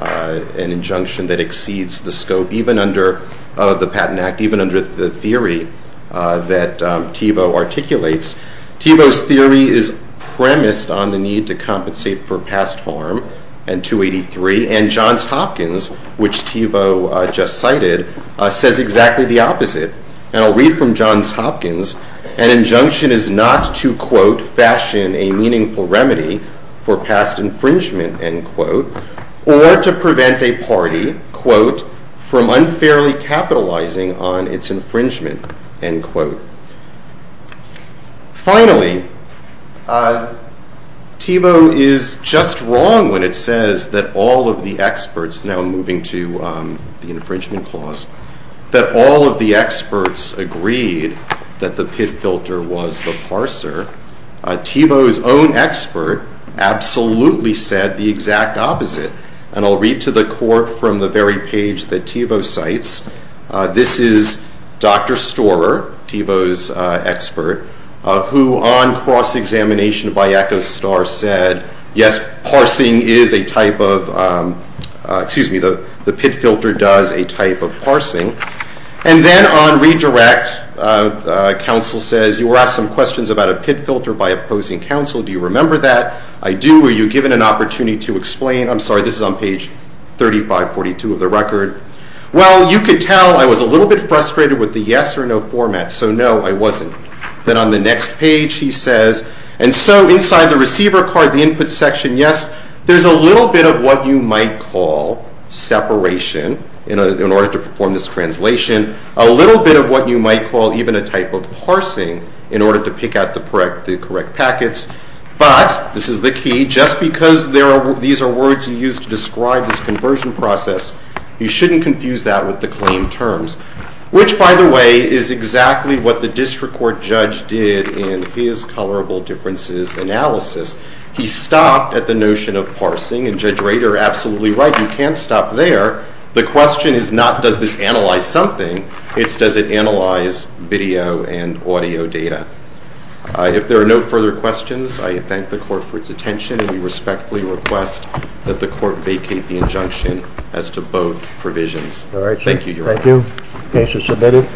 an injunction that exceeds the scope, even under the Patent Act, even under the theory that Thiebaud articulates. Thiebaud's theory is premised on the need to compensate for past harm in 283 and Johns Hopkins, which Thiebaud just cited, says exactly the opposite. And I'll read from Johns Hopkins. An injunction is not to, quote, fashion a meaningful remedy for past infringement, end quote, or to prevent a party, quote, from unfairly capitalizing on its infringement, end quote. Finally, Thiebaud is just wrong when it says that all of the experts, now moving to the Infringement Clause, that all of the experts agreed that the pit filter was the parser. Thiebaud's own expert absolutely said the exact opposite. And I'll read to the court from the very page that Thiebaud cites. This is Dr. Storer, Thiebaud's expert, who on cross-examination by Echo Star said, yes, parsing is a type of, excuse me, the pit filter does a type of parsing. And then on redirect, counsel says, you were asked some questions about a pit filter by opposing counsel. Do you remember that? I do. Were you given an opportunity to explain it? I'm sorry, this is on page 3542 of the record. Well, you could tell I was a little bit frustrated with the yes or no format. So no, I wasn't. Then on the next page he says, and so inside the receiver card, the input section, yes, there's a little bit of what you might call separation in order to perform this translation, a little bit of what you might call even a type of parsing in order to pick out the correct packets. But, this is the key, just because these are words you use to describe this conversion process, you shouldn't confuse that with the claim terms, which, by the way, is exactly what the district court judge did in his colorable differences analysis. He stopped at the notion of parsing, and Judge Rader, absolutely right, you can't stop there. The question is not does this analyze something, it's does it analyze video and audio data. If there are no further questions, I thank the court for its attention, and we respectfully request that the court vacate the injunction as to both provisions. Thank you, Your Honor. Thank you. Case is submitted.